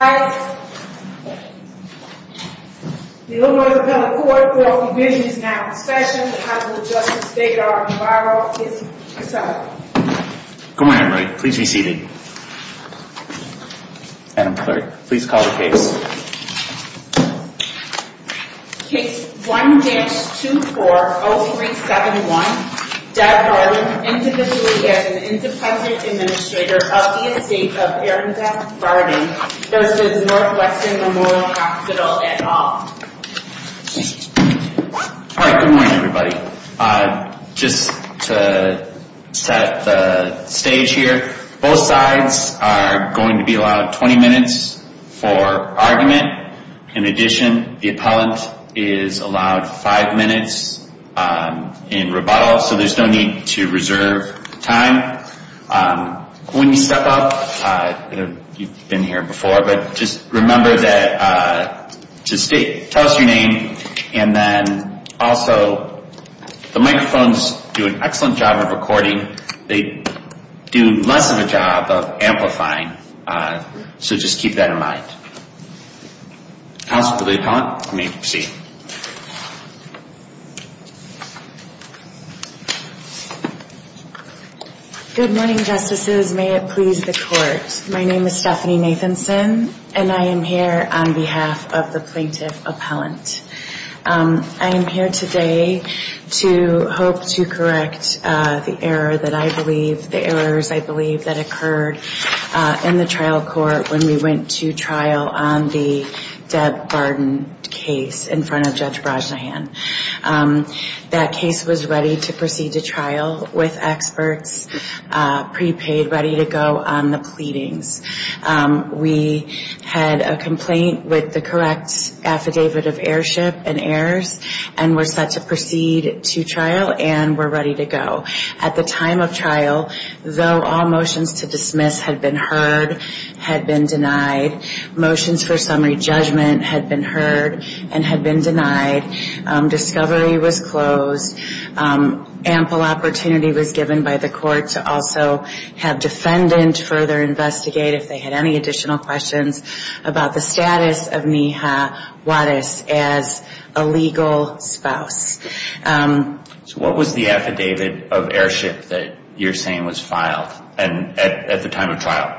The Illinois Appellate Court for all provisions now in session, the House of Justice, State Guard, and Barrow is adjourned. Good morning, everybody. Please be seated. Madam Clerk, please call the case. Case 1-240371, Doug Harlan, individually as an independent administrator of the estate of Erin Beth Barden v. Northwestern Memorial Hospital et al. All right, good morning, everybody. Just to set the stage here, both sides are going to be allowed 20 minutes for argument. In addition, the appellant is allowed five minutes in rebuttal, so there's no need to reserve time. When you step up, you've been here before, but just remember to state, tell us your name, and then also the microphones do an excellent job of recording. They do less of a job of amplifying, so just keep that in mind. Counsel for the appellant may proceed. Good morning, Justices. May it please the Court. My name is Stephanie Nathanson, and I am here on behalf of the plaintiff appellant. I am here today to hope to correct the error that I believe, the errors I believe, that occurred in the trial court when we went to trial on the Deb Barden case in front of Judge Brajnahan. That case was ready to proceed to trial with experts, prepaid, ready to go on the pleadings. We had a complaint with the correct affidavit of airship and airs, and were set to proceed to trial, and were ready to go. At the time of trial, though all motions to dismiss had been heard, had been denied, motions for summary judgment had been heard and had been denied, discovery was closed, ample opportunity was given by the court to also have defendant further investigate if they had any additional questions about the status of Neha Waddis as a legal spouse. So what was the affidavit of airship that you're saying was filed at the time of trial?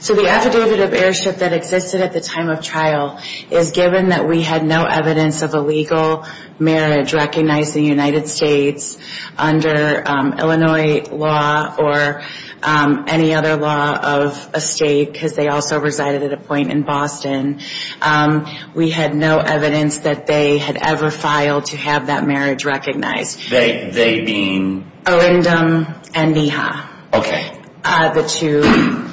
So the affidavit of airship that existed at the time of trial is given that we had no evidence of a legal marriage recognized in the United States under Illinois law or any other law of a state, because they also resided at a point in Boston. We had no evidence that they had ever filed to have that marriage recognized. They being? Errandum and Neha. Okay. The two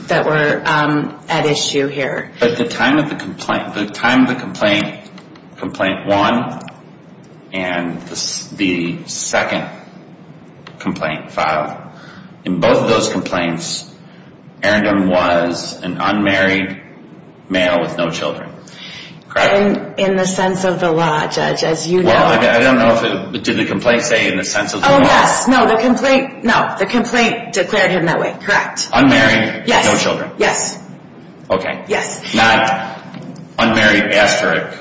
that were at issue here. But at the time of the complaint, complaint one and the second complaint filed, in both of those complaints, Errandum was an unmarried male with no children. Correct? In the sense of the law, Judge, as you know. I don't know. Did the complaint say in the sense of the law? Oh, yes. No, the complaint declared him that way. Correct. Unmarried. Yes. No children. Okay. Yes. Not unmarried asterisk,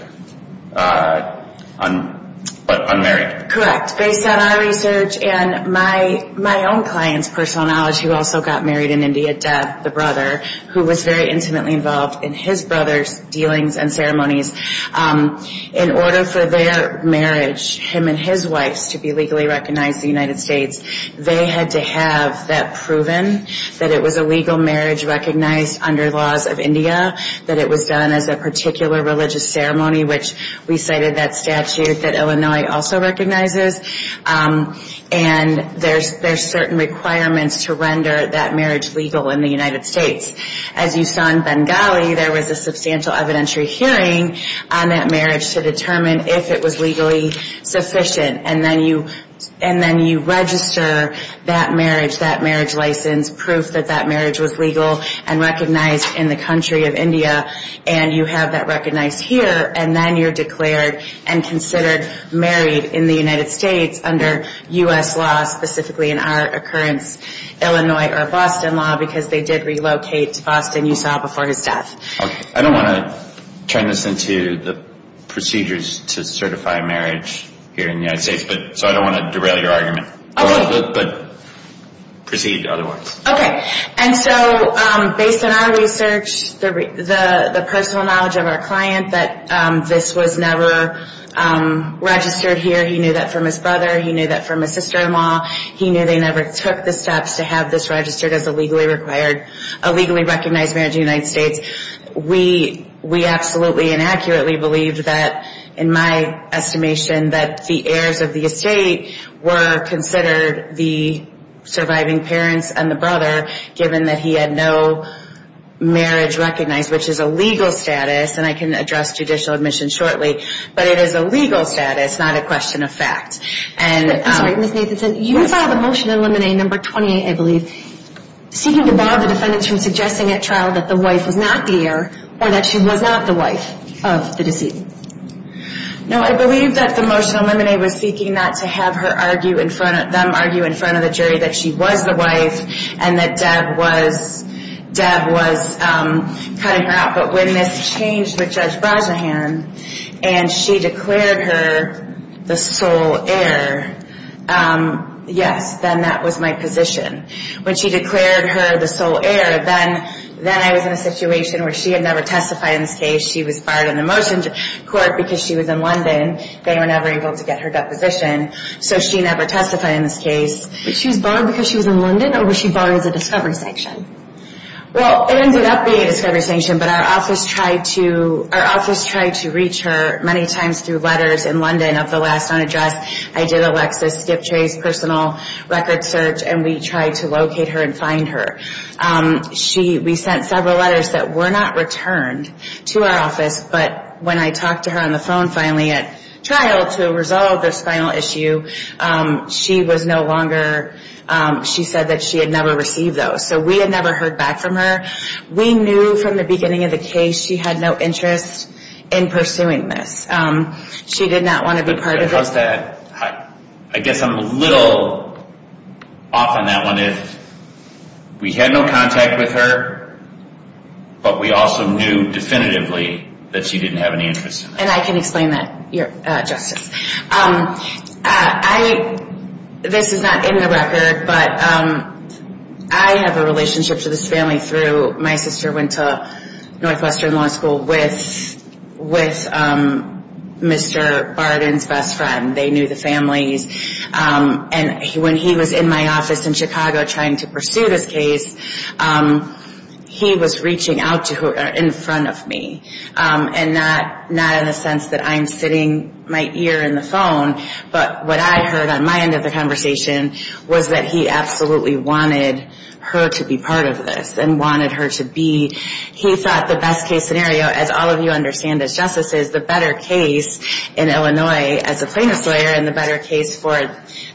but unmarried. Correct. Based on our research and my own client's personal knowledge, who also got married in India, Deb, the brother, who was very intimately involved in his brother's dealings and ceremonies, in order for their marriage, him and his wife's, to be legally recognized in the United States, they had to have that proven, that it was a legal marriage recognized under laws of India, that it was done as a particular religious ceremony, which we cited that statute that Illinois also recognizes. And there's certain requirements to render that marriage legal in the United States. As you saw in Bengali, there was a substantial evidentiary hearing on that marriage to determine if it was legally sufficient. And then you register that marriage, that marriage license, proof that that marriage was legal and recognized in the country of India, and you have that recognized here, and then you're declared and considered married in the United States under U.S. law, specifically in our occurrence, Illinois or Boston law, because they did relocate to Boston, you saw, before his death. I don't want to turn this into the procedures to certify marriage here in the United States, so I don't want to derail your argument. But proceed otherwise. Okay. And so based on our research, the personal knowledge of our client, that this was never registered here. He knew that from his brother. He knew that from his sister-in-law. He knew they never took the steps to have this registered as a legally required, a legally recognized marriage in the United States. We absolutely and accurately believe that, in my estimation, that the heirs of the estate were considered the surviving parents and the brother, given that he had no marriage recognized, which is a legal status, and I can address judicial admission shortly. But it is a legal status, not a question of fact. I'm sorry, Ms. Nathanson. Yes. You saw the motion in limine number 28, I believe, seeking to bar the defendants from suggesting at trial that the wife was not the heir or that she was not the wife of the deceased. No, I believe that the motion in limine was seeking not to have them argue in front of the jury that she was the wife and that Deb was cutting her out. But when this changed with Judge Brazehan and she declared her the sole heir, yes, then that was my position. When she declared her the sole heir, then I was in a situation where she had never testified in this case. She was barred in the motion court because she was in London. They were never able to get her deposition, so she never testified in this case. But she was barred because she was in London, or was she barred as a discovery sanction? Well, it ended up being a discovery sanction, but our office tried to reach her many times through letters in London of the last known address. I did Alexis Skiptray's personal record search, and we tried to locate her and find her. We sent several letters that were not returned to our office, but when I talked to her on the phone finally at trial to resolve this final issue, she said that she had never received those. So we had never heard back from her. We knew from the beginning of the case she had no interest in pursuing this. She did not want to be part of it. Because of that, I guess I'm a little off on that one. We had no contact with her, but we also knew definitively that she didn't have any interest in it. And I can explain that, Justice. This is not in the record, but I have a relationship to this family through my sister went to Northwestern Law School with Mr. Barden's best friend. They knew the families. And when he was in my office in Chicago trying to pursue this case, he was reaching out to her in front of me. And not in the sense that I'm sitting my ear in the phone, but what I heard on my end of the conversation was that he absolutely wanted her to be part of this. And wanted her to be. He thought the best case scenario, as all of you understand as justices, the better case in Illinois as a plaintiff's lawyer, and the better case for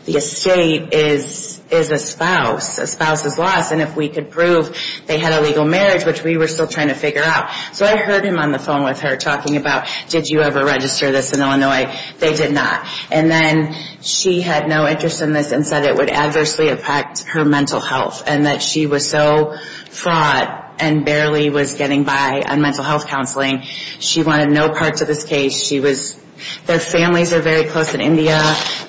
the estate is a spouse. A spouse's loss. And if we could prove they had a legal marriage, which we were still trying to figure out. So I heard him on the phone with her talking about, did you ever register this in Illinois? They did not. And then she had no interest in this and said it would adversely affect her mental health. And that she was so fraught and barely was getting by on mental health counseling. She wanted no part to this case. She was, their families are very close in India.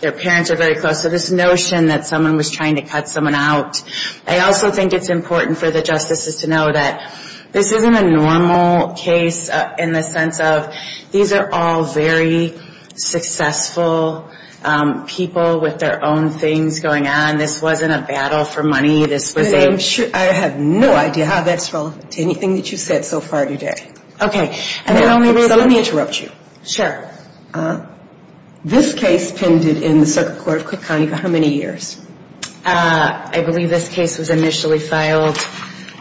Their parents are very close. So this notion that someone was trying to cut someone out. I also think it's important for the justices to know that this isn't a normal case in the sense of, these are all very successful people with their own things going on. This wasn't a battle for money. This was a. I have no idea how that's relevant to anything that you've said so far today. Okay. And the only reason. So let me interrupt you. Sure. This case pended in the circuit court of Cook County for how many years? I believe this case was initially filed.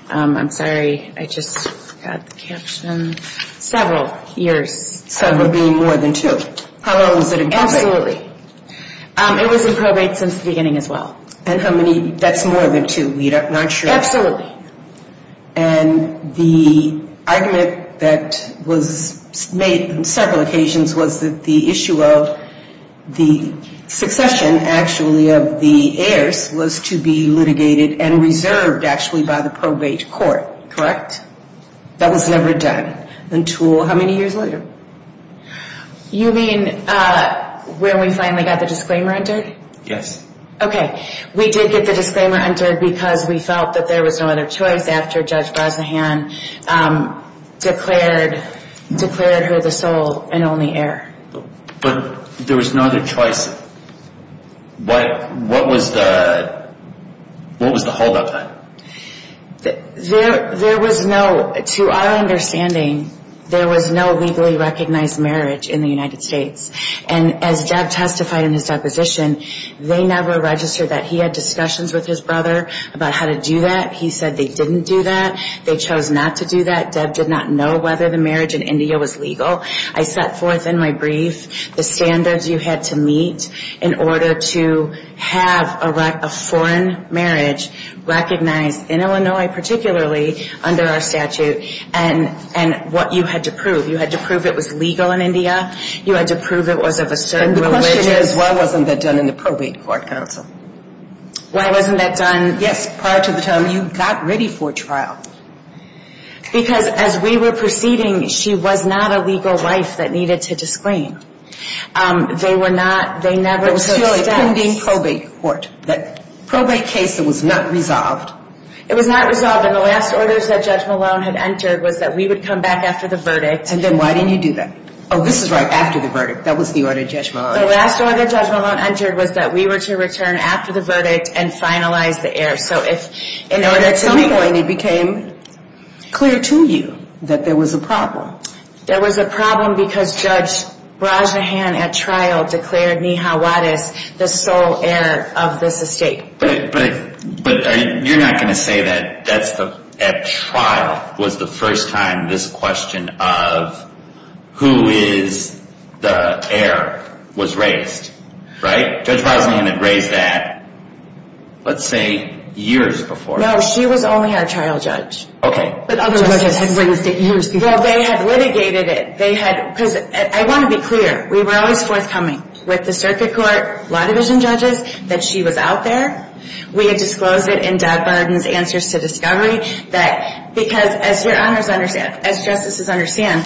I'm sorry. I just forgot the caption. Several years. Several being more than two. How long was it in probate? Absolutely. It was in probate since the beginning as well. And how many, that's more than two. We're not sure. And the argument that was made on several occasions was that the issue of the succession actually of the heirs was to be litigated and reserved actually by the probate court, correct? That was never done until how many years later? You mean when we finally got the disclaimer entered? Yes. Okay. We did get the disclaimer entered because we felt that there was no other choice after Judge Bosnahan declared her the sole and only heir. But there was no other choice. What was the holdup then? There was no, to our understanding, there was no legally recognized marriage in the United States. And as Deb testified in his deposition, they never registered that he had discussions with his brother about how to do that. He said they didn't do that. They chose not to do that. Deb did not know whether the marriage in India was legal. I set forth in my brief the standards you had to meet in order to have a foreign marriage recognized in Illinois particularly under our statute and what you had to prove. You had to prove it was legal in India. You had to prove it was of a certain religion. And the question is why wasn't that done in the probate court, counsel? Why wasn't that done? Yes, prior to the time you got ready for trial. Because as we were proceeding, she was not a legal wife that needed to disclaim. They were not, they never took steps. It was still a pending probate court. That probate case, it was not resolved. It was not resolved and the last orders that Judge Malone had entered was that we would come back after the verdict. And then why didn't you do that? Oh, this is right after the verdict. That was the order Judge Malone entered. The last order Judge Malone entered was that we were to return after the verdict and finalize the heir. So if in order to... At some point it became clear to you that there was a problem. There was a problem because Judge Rajnahan at trial declared Neha Wadis the sole heir of this estate. But you're not going to say that at trial was the first time this question of who is the heir was raised, right? Judge Rajnahan had raised that, let's say, years before. No, she was only our trial judge. Okay. But other judges had raised it years before. Well, they had litigated it. I want to be clear. We were always forthcoming with the circuit court, law division judges, that she was out there. We had disclosed it in Doug Barden's answers to discovery. Because as your honors understand, as justices understand,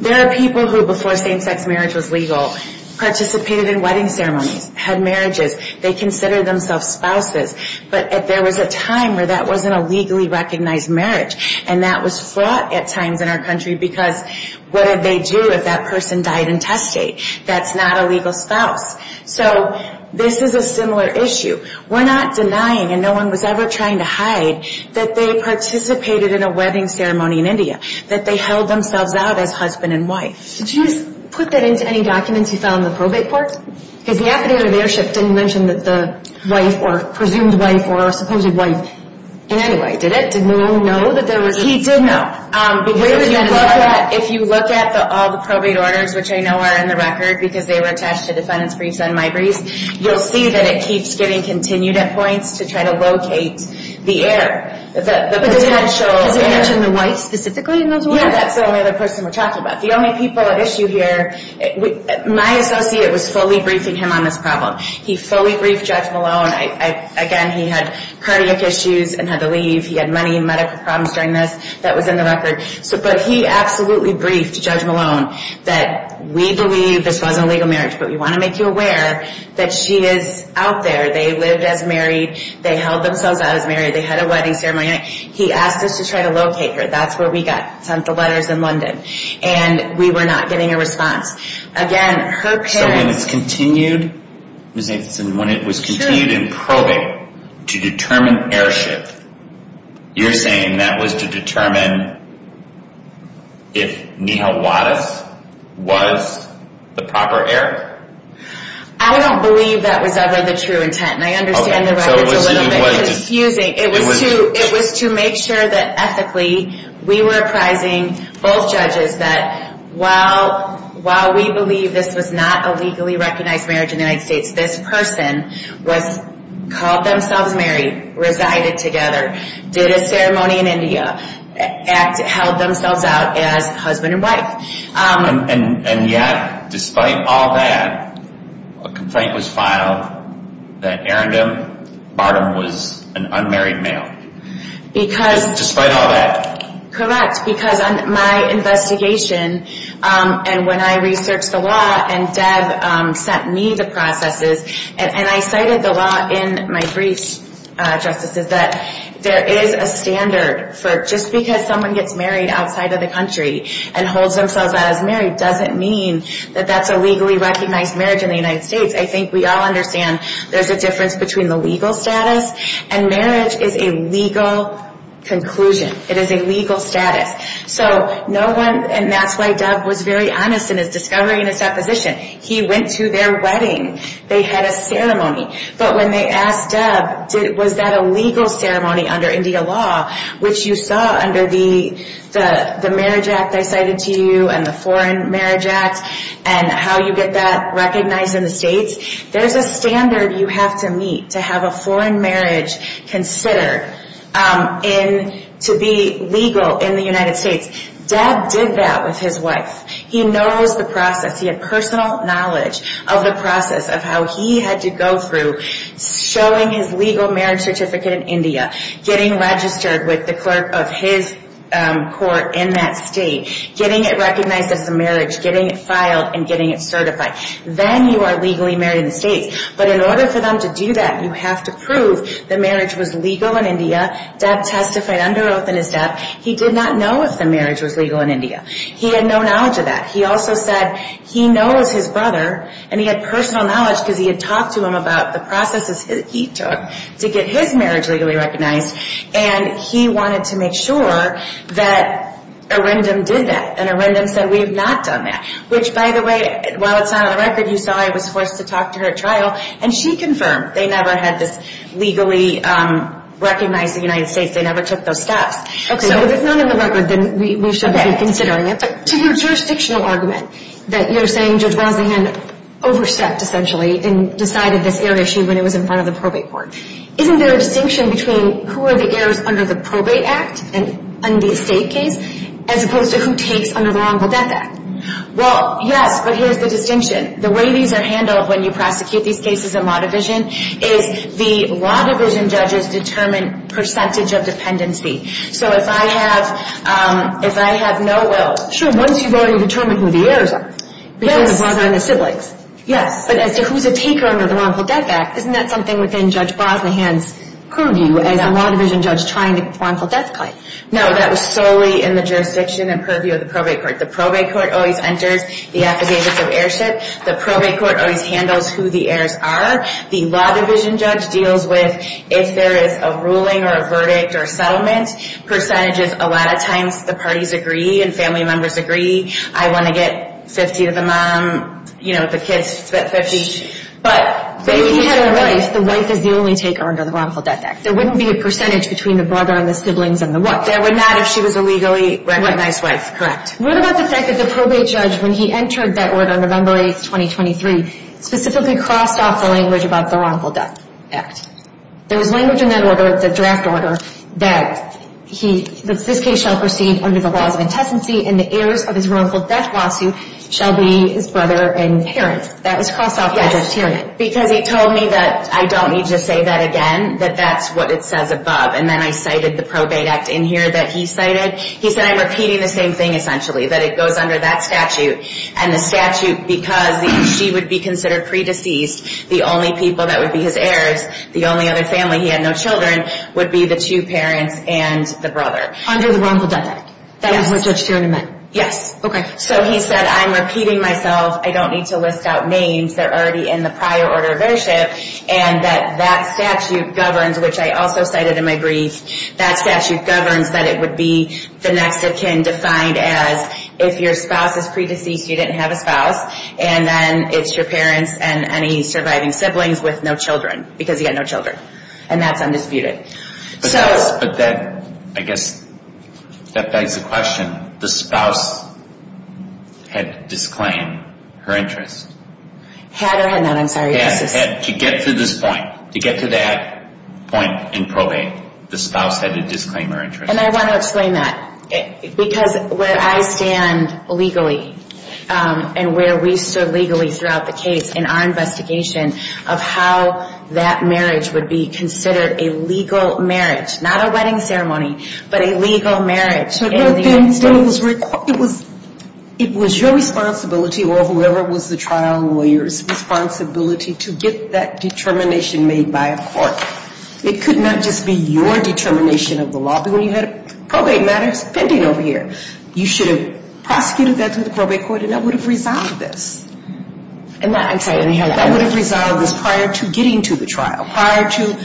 there are people who before same-sex marriage was legal, participated in wedding ceremonies, had marriages. They considered themselves spouses. But there was a time where that wasn't a legally recognized marriage. And that was fraught at times in our country because what did they do if that person died in testate? That's not a legal spouse. So this is a similar issue. We're not denying, and no one was ever trying to hide, that they participated in a wedding ceremony in India, that they held themselves out as husband and wife. Did you put that into any documents you found in the probate court? Because the affidavit of heirship didn't mention that the wife or presumed wife or supposed wife in any way, did it? Did Malone know that there was? He did know. If you look at all the probate orders, which I know are in the record because they were attached to defendants' briefs on my briefs, you'll see that it keeps getting continued at points to try to locate the heir, the potential heir. Did it mention the wife specifically in those orders? Yeah, that's the only other person we're talking about. The only people at issue here, my associate was fully briefing him on this problem. He fully briefed Judge Malone. Again, he had cardiac issues and had to leave. He had money and medical problems during this. That was in the record. But he absolutely briefed Judge Malone that we believe this wasn't a legal marriage, but we want to make you aware that she is out there. They lived as married. They held themselves out as married. They had a wedding ceremony. He asked us to try to locate her. That's where we got sent the letters in London, and we were not getting a response. So when it was continued in probate to determine heirship, you're saying that was to determine if Nihal Wadis was the proper heir? I don't believe that was ever the true intent, and I understand the records a little bit confusing. It was to make sure that ethically we were apprising both judges that while we believe this was not a legally recognized marriage in the United States, this person called themselves married, resided together, did a ceremony in India, held themselves out as husband and wife. And yet, despite all that, a complaint was filed that Arendam Bartum was an unmarried male. Despite all that. Correct. Because on my investigation, and when I researched the law, and Deb sent me the processes, and I cited the law in my briefs, Justice, that there is a standard for just because someone gets married outside of the country and holds themselves out as married doesn't mean that that's a legally recognized marriage in the United States. I think we all understand there's a difference between the legal status, and marriage is a legal conclusion. It is a legal status. So no one, and that's why Deb was very honest in his discovery and his deposition. He went to their wedding. They had a ceremony. But when they asked Deb, was that a legal ceremony under India law, which you saw under the Marriage Act I cited to you and the Foreign Marriage Act and how you get that recognized in the States, there's a standard you have to meet to have a foreign marriage considered to be legal in the United States. Deb did that with his wife. He knows the process. He had personal knowledge of the process of how he had to go through showing his legal marriage certificate in India, getting registered with the clerk of his court in that state, getting it recognized as a marriage, getting it filed and getting it certified. Then you are legally married in the States. But in order for them to do that, you have to prove the marriage was legal in India. Deb testified under oath in his death. He did not know if the marriage was legal in India. He had no knowledge of that. He also said he knows his brother, and he had personal knowledge because he had talked to him about the processes he took to get his marriage legally recognized, and he wanted to make sure that Arindam did that. And Arindam said, we have not done that. Which, by the way, while it's not on the record, you saw I was forced to talk to her at trial, and she confirmed they never had this legally recognized in the United States. They never took those steps. Okay. So if it's not on the record, then we should be considering it. But to your jurisdictional argument, that you're saying Judge Walsinghan overstepped essentially and decided this error issue when it was in front of the probate court, isn't there a distinction between who are the errors under the probate act and the estate case as opposed to who takes under the wrongful death act? Well, yes, but here's the distinction. The way these are handled when you prosecute these cases in law division is the law division judges determine percentage of dependency. So if I have no will, sure, once you've already determined who the errors are, between the brother and the siblings. Yes. But as to who's a taker under the wrongful death act, isn't that something within Judge Bosnahan's purview as a law division judge trying the wrongful death claim? No, that was solely in the jurisdiction and purview of the probate court. The probate court always enters the affidavits of heirship. The probate court always handles who the errors are. The law division judge deals with if there is a ruling or a verdict or a settlement. Percentages, a lot of times the parties agree and family members agree. I want to get 50 to the mom, you know, the kids get 50. But if he had a wife, the wife is the only taker under the wrongful death act. There wouldn't be a percentage between the brother and the siblings and the wife. There would not if she was a legally recognized wife, correct. What about the fact that the probate judge, when he entered that order on November 8, 2023, specifically crossed off the language about the wrongful death act? There was language in that order, the draft order, that this case shall proceed under the laws of intestacy and the heirs of his wrongful death lawsuit shall be his brother and parents. That was crossed off by the judge's hearing. Yes, because he told me that I don't need to say that again, that that's what it says above. And then I cited the probate act in here that he cited. He said I'm repeating the same thing essentially, that it goes under that statute and the statute, because she would be considered pre-deceased, the only people that would be his heirs, the only other family, he had no children, would be the two parents and the brother. Under the wrongful death act. Yes. That was what Judge Tiernan meant. Yes. Okay. So he said I'm repeating myself, I don't need to list out names, they're already in the prior order of ownership, and that that statute governs, which I also cited in my brief, that statute governs that it would be the next of kin defined as if your spouse is pre-deceased, you didn't have a spouse, and then it's your parents and any surviving siblings with no children, because he had no children. And that's undisputed. But that, I guess, that begs the question, the spouse had to disclaim her interest. Had or had not, I'm sorry. To get to this point, to get to that point in probate, the spouse had to disclaim her interest. And I want to explain that. Because where I stand legally and where we stood legally throughout the case in our investigation of how that marriage would be considered a legal marriage, not a wedding ceremony, but a legal marriage. But it was your responsibility or whoever was the trial lawyer's responsibility to get that determination made by a court. It could not just be your determination of the law. When you had probate matters pending over here, you should have prosecuted that through the probate court, and that would have resolved this. And that, I'm sorry. That would have resolved this prior to getting to the trial, prior to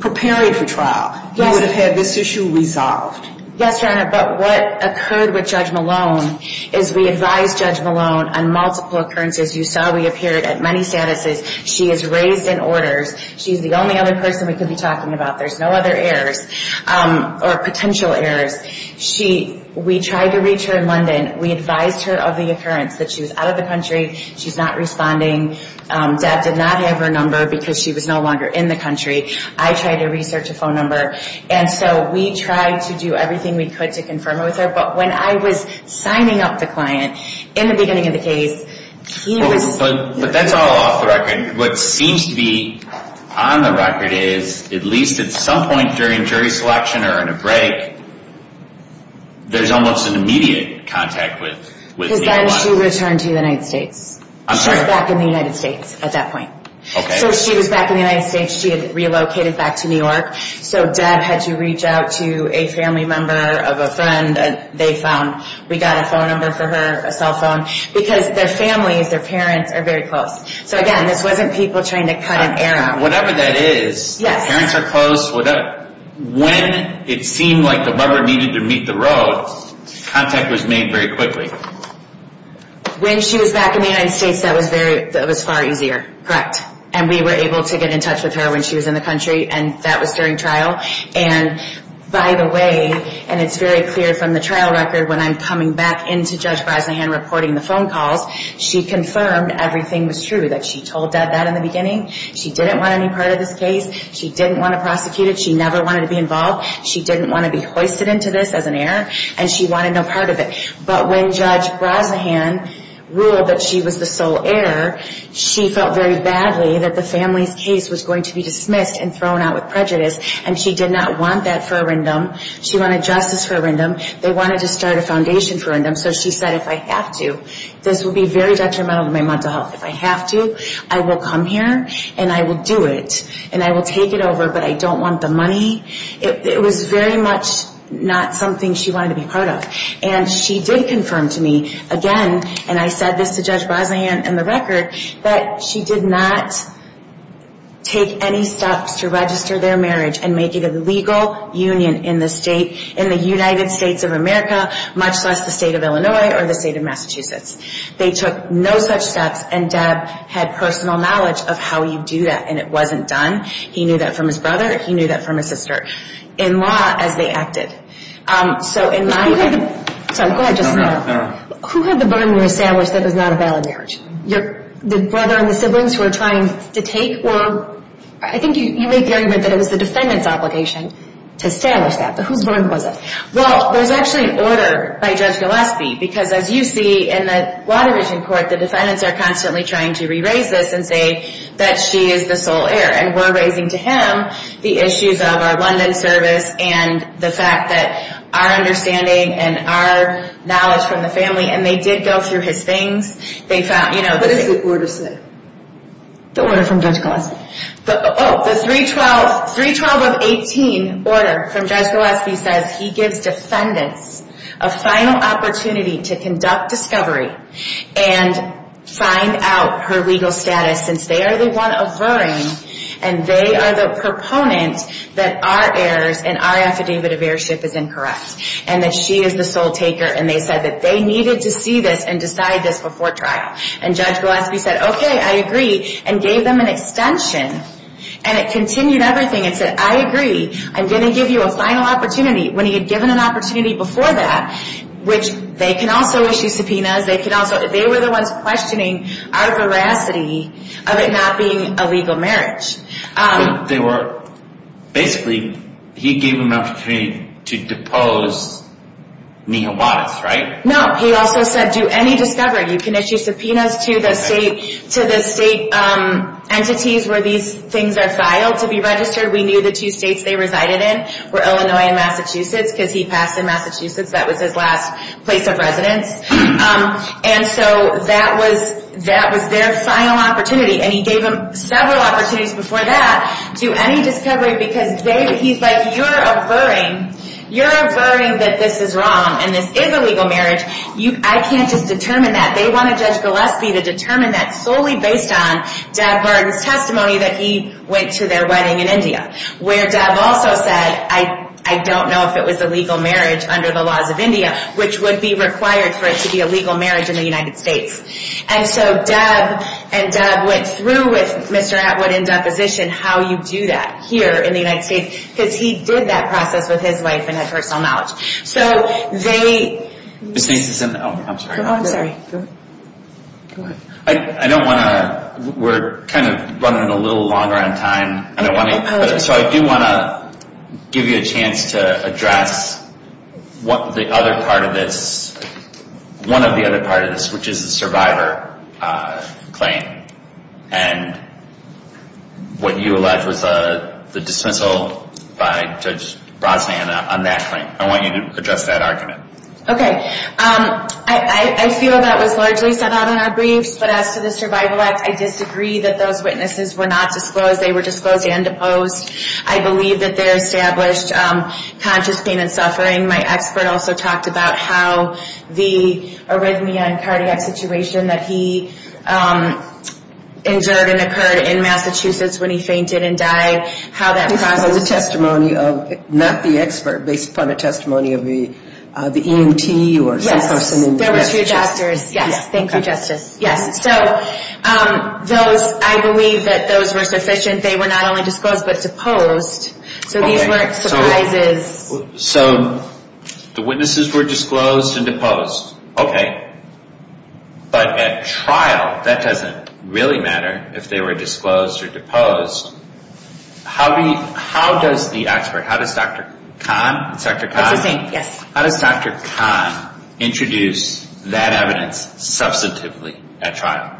preparing for trial. That would have had this issue resolved. Yes, Your Honor, but what occurred with Judge Malone is we advised Judge Malone on multiple occurrences. You saw we appeared at many statuses. She is raised in orders. She's the only other person we could be talking about. There's no other errors or potential errors. We tried to reach her in London. We advised her of the occurrence that she was out of the country. She's not responding. Dad did not have her number because she was no longer in the country. I tried to research a phone number. And so we tried to do everything we could to confirm it with her. But when I was signing up the client in the beginning of the case, he was... But that's all off the record. What seems to be on the record is, at least at some point during jury selection or in a break, there's almost an immediate contact with... Because then she returned to the United States. She was back in the United States at that point. Okay. So she was back in the United States. She had relocated back to New York. So Dad had to reach out to a family member of a friend. They found we got a phone number for her, a cell phone, because their families, their parents, are very close. So, again, this wasn't people trying to cut an arrow. Whatever that is, parents are close. When it seemed like the rubber needed to meet the road, contact was made very quickly. When she was back in the United States, that was far easier. Correct. And we were able to get in touch with her when she was in the country, and that was during trial. And, by the way, and it's very clear from the trial record, when I'm coming back into Judge Brosnahan reporting the phone calls, she confirmed everything was true, that she told Dad that in the beginning. She didn't want any part of this case. She didn't want to prosecute it. She never wanted to be involved. She didn't want to be hoisted into this as an heir, and she wanted no part of it. But when Judge Brosnahan ruled that she was the sole heir, she felt very badly that the family's case was going to be dismissed and thrown out with prejudice, and she did not want that for a rindom. She wanted justice for a rindom. They wanted to start a foundation for a rindom, so she said, if I have to, this will be very detrimental to my mental health. If I have to, I will come here, and I will do it, and I will take it over, but I don't want the money. It was very much not something she wanted to be part of. And she did confirm to me again, and I said this to Judge Brosnahan in the record, that she did not take any steps to register their marriage and make it a legal union in the United States of America, much less the state of Illinois or the state of Massachusetts. They took no such steps, and Deb had personal knowledge of how you do that, and it wasn't done. He knew that from his brother. He knew that from his sister. In law, as they acted. So in my view – Sorry, go ahead. Who had the burden to establish that it was not a valid marriage? The brother and the siblings who were trying to take, or – I think you made the argument that it was the defendant's obligation to establish that, but whose burden was it? Well, there's actually an order by Judge Gillespie, because as you see in the Water Region Court, the defendants are constantly trying to re-raise this and say that she is the sole heir, and we're raising to him the issues of our London service and the fact that our understanding and our knowledge from the family, and they did go through his things. They found – What does the order say? The order from Judge Gillespie. The 312 of 18 order from Judge Gillespie says he gives defendants a final opportunity to conduct discovery and find out her legal status since they are the one averring and they are the proponent that our heirs and our affidavit of heirship is incorrect and that she is the sole taker, and they said that they needed to see this and decide this before trial. And Judge Gillespie said, okay, I agree, and gave them an extension, and it continued everything. It said, I agree. I'm going to give you a final opportunity. When he had given an opportunity before that, which they can also issue subpoenas. They were the ones questioning our veracity of it not being a legal marriage. Basically, he gave them an opportunity to depose Neha Wattis, right? No. He also said do any discovery. You can issue subpoenas to the state entities where these things are filed to be registered. We knew the two states they resided in were Illinois and Massachusetts because he passed in Massachusetts. That was his last place of residence. And so that was their final opportunity, and he gave them several opportunities before that to do any discovery because he's like, you're averring. You're averring that this is wrong, and this is a legal marriage. I can't just determine that. They want to judge Gillespie to determine that solely based on Deb Martin's testimony that he went to their wedding in India, where Deb also said, I don't know if it was a legal marriage under the laws of India, which would be required for it to be a legal marriage in the United States. And so Deb and Deb went through with Mr. Atwood in deposition how you do that here in the United States because he did that process with his wife and had personal knowledge. So they— Ms. Nance is in the—oh, I'm sorry. Oh, I'm sorry. Go ahead. I don't want to—we're kind of running a little longer on time, so I do want to give you a chance to address what the other part of this— one of the other part of this, which is the survivor claim and what you alleged was the dismissal by Judge Brosnan on that claim. I want you to address that argument. Okay. I feel that was largely set out in our briefs, but as to the Survival Act, I disagree that those witnesses were not disclosed. They were disclosed and deposed. I believe that they're established conscious pain and suffering. My expert also talked about how the arrhythmia and cardiac situation that he endured and occurred in Massachusetts when he fainted and died, how that process— Based upon the testimony of—not the expert, based upon the testimony of the EMT or some person in Massachusetts. There were two doctors. Yes. Thank you, Justice. Yes. So those—I believe that those were sufficient. They were not only disclosed but deposed. So these weren't surprises. So the witnesses were disclosed and deposed. Okay. But at trial, that doesn't really matter if they were disclosed or deposed. How does the expert—how does Dr. Kahn— It's the same. How does Dr. Kahn introduce that evidence substantively at trial?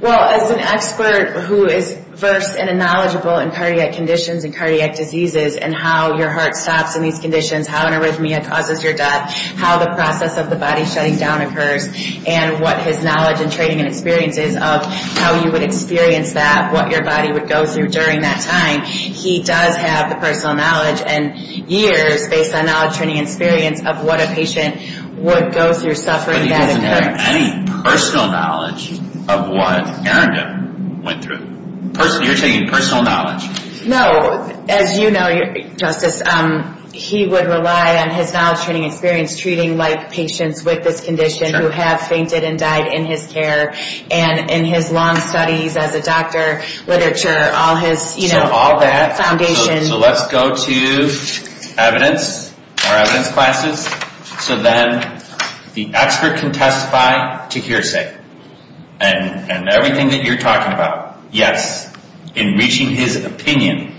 Well, as an expert who is versed and knowledgeable in cardiac conditions and cardiac diseases and how your heart stops in these conditions, how an arrhythmia causes your death, how the process of the body shutting down occurs, and what his knowledge and training and experience is of how you would experience that, what your body would go through during that time, he does have the personal knowledge and years, based on knowledge, training, and experience, of what a patient would go through suffering that occurs. But he doesn't have any personal knowledge of what Erin did—went through. You're taking personal knowledge. No. As you know, Justice, he would rely on his knowledge, training, and experience treating like patients with this condition who have fainted and died in his care. And in his long studies as a doctor, literature, all his— So all that. —foundation. So let's go to evidence, our evidence classes. So then the expert can testify to hearsay. And everything that you're talking about, yes, in reaching his opinion.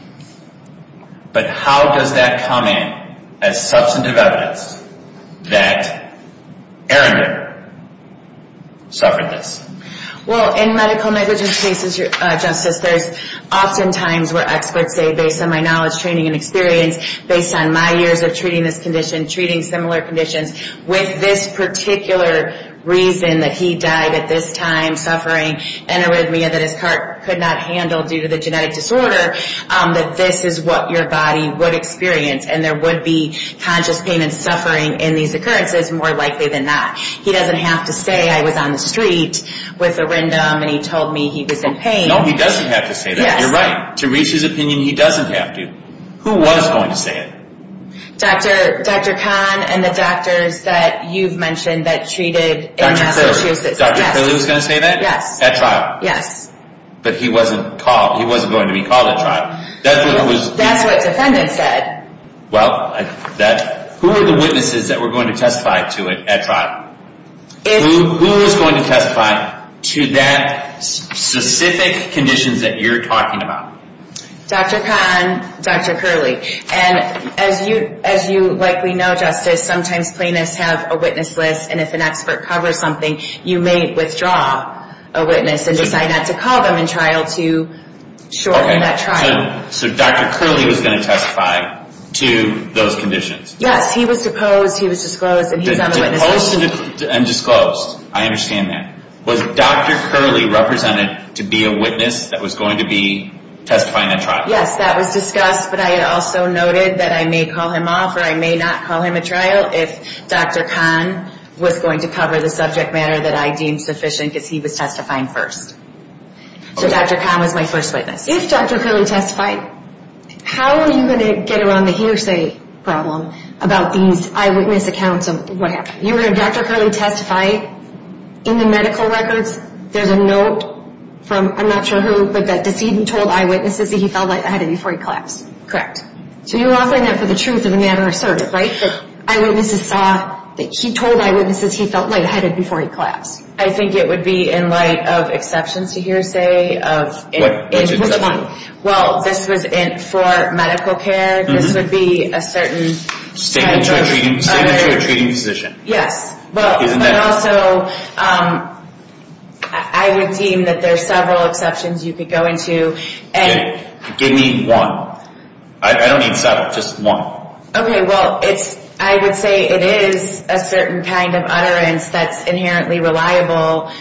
But how does that come in as substantive evidence that Erin suffered this? Well, in medical negligence cases, Justice, there's oftentimes where experts say, based on my knowledge, training, and experience, based on my years of treating this condition, treating similar conditions, with this particular reason that he died at this time, suffering an arrhythmia that his heart could not handle due to the genetic disorder, that this is what your body would experience. And there would be conscious pain and suffering in these occurrences, more likely than not. He doesn't have to say, I was on the street with a rindom, and he told me he was in pain. No, he doesn't have to say that. You're right. To reach his opinion, he doesn't have to. Who was going to say it? Dr. Kahn and the doctors that you've mentioned that treated in Massachusetts. Dr. Curley was going to say that? Yes. At trial? Yes. But he wasn't going to be called at trial. That's what defendants said. Well, who were the witnesses that were going to testify to it at trial? Who was going to testify to that specific condition that you're talking about? Dr. Kahn, Dr. Curley. And as you likely know, Justice, sometimes plaintiffs have a witness list, and if an expert covers something, you may withdraw a witness and decide not to call them in trial to shorten that trial. So Dr. Curley was going to testify to those conditions? Yes, he was deposed, he was disclosed, and he's on the witness list. Deposed and disclosed, I understand that. Was Dr. Curley represented to be a witness that was going to be testifying at trial? Yes, that was discussed, but I also noted that I may call him off or I may not call him at trial if Dr. Kahn was going to cover the subject matter that I deemed sufficient because he was testifying first. So Dr. Kahn was my first witness. If Dr. Curley testified, how are you going to get around the hearsay problem about these eyewitness accounts of what happened? You heard Dr. Curley testify in the medical records? There's a note from I'm not sure who, but that the decedent told eyewitnesses that he felt like he had it before he collapsed. Correct. So you're offering that for the truth of the matter asserted, right? That eyewitnesses saw that he told eyewitnesses he felt lightheaded before he collapsed. I think it would be in light of exceptions to hearsay of... Which one? Well, this was for medical care. This would be a certain... Statement to a treating physician. Yes, but also I would deem that there are several exceptions you could go into. Give me one. I don't need seven, just one. Okay, well, I would say it is a certain kind of utterance that's inherently reliable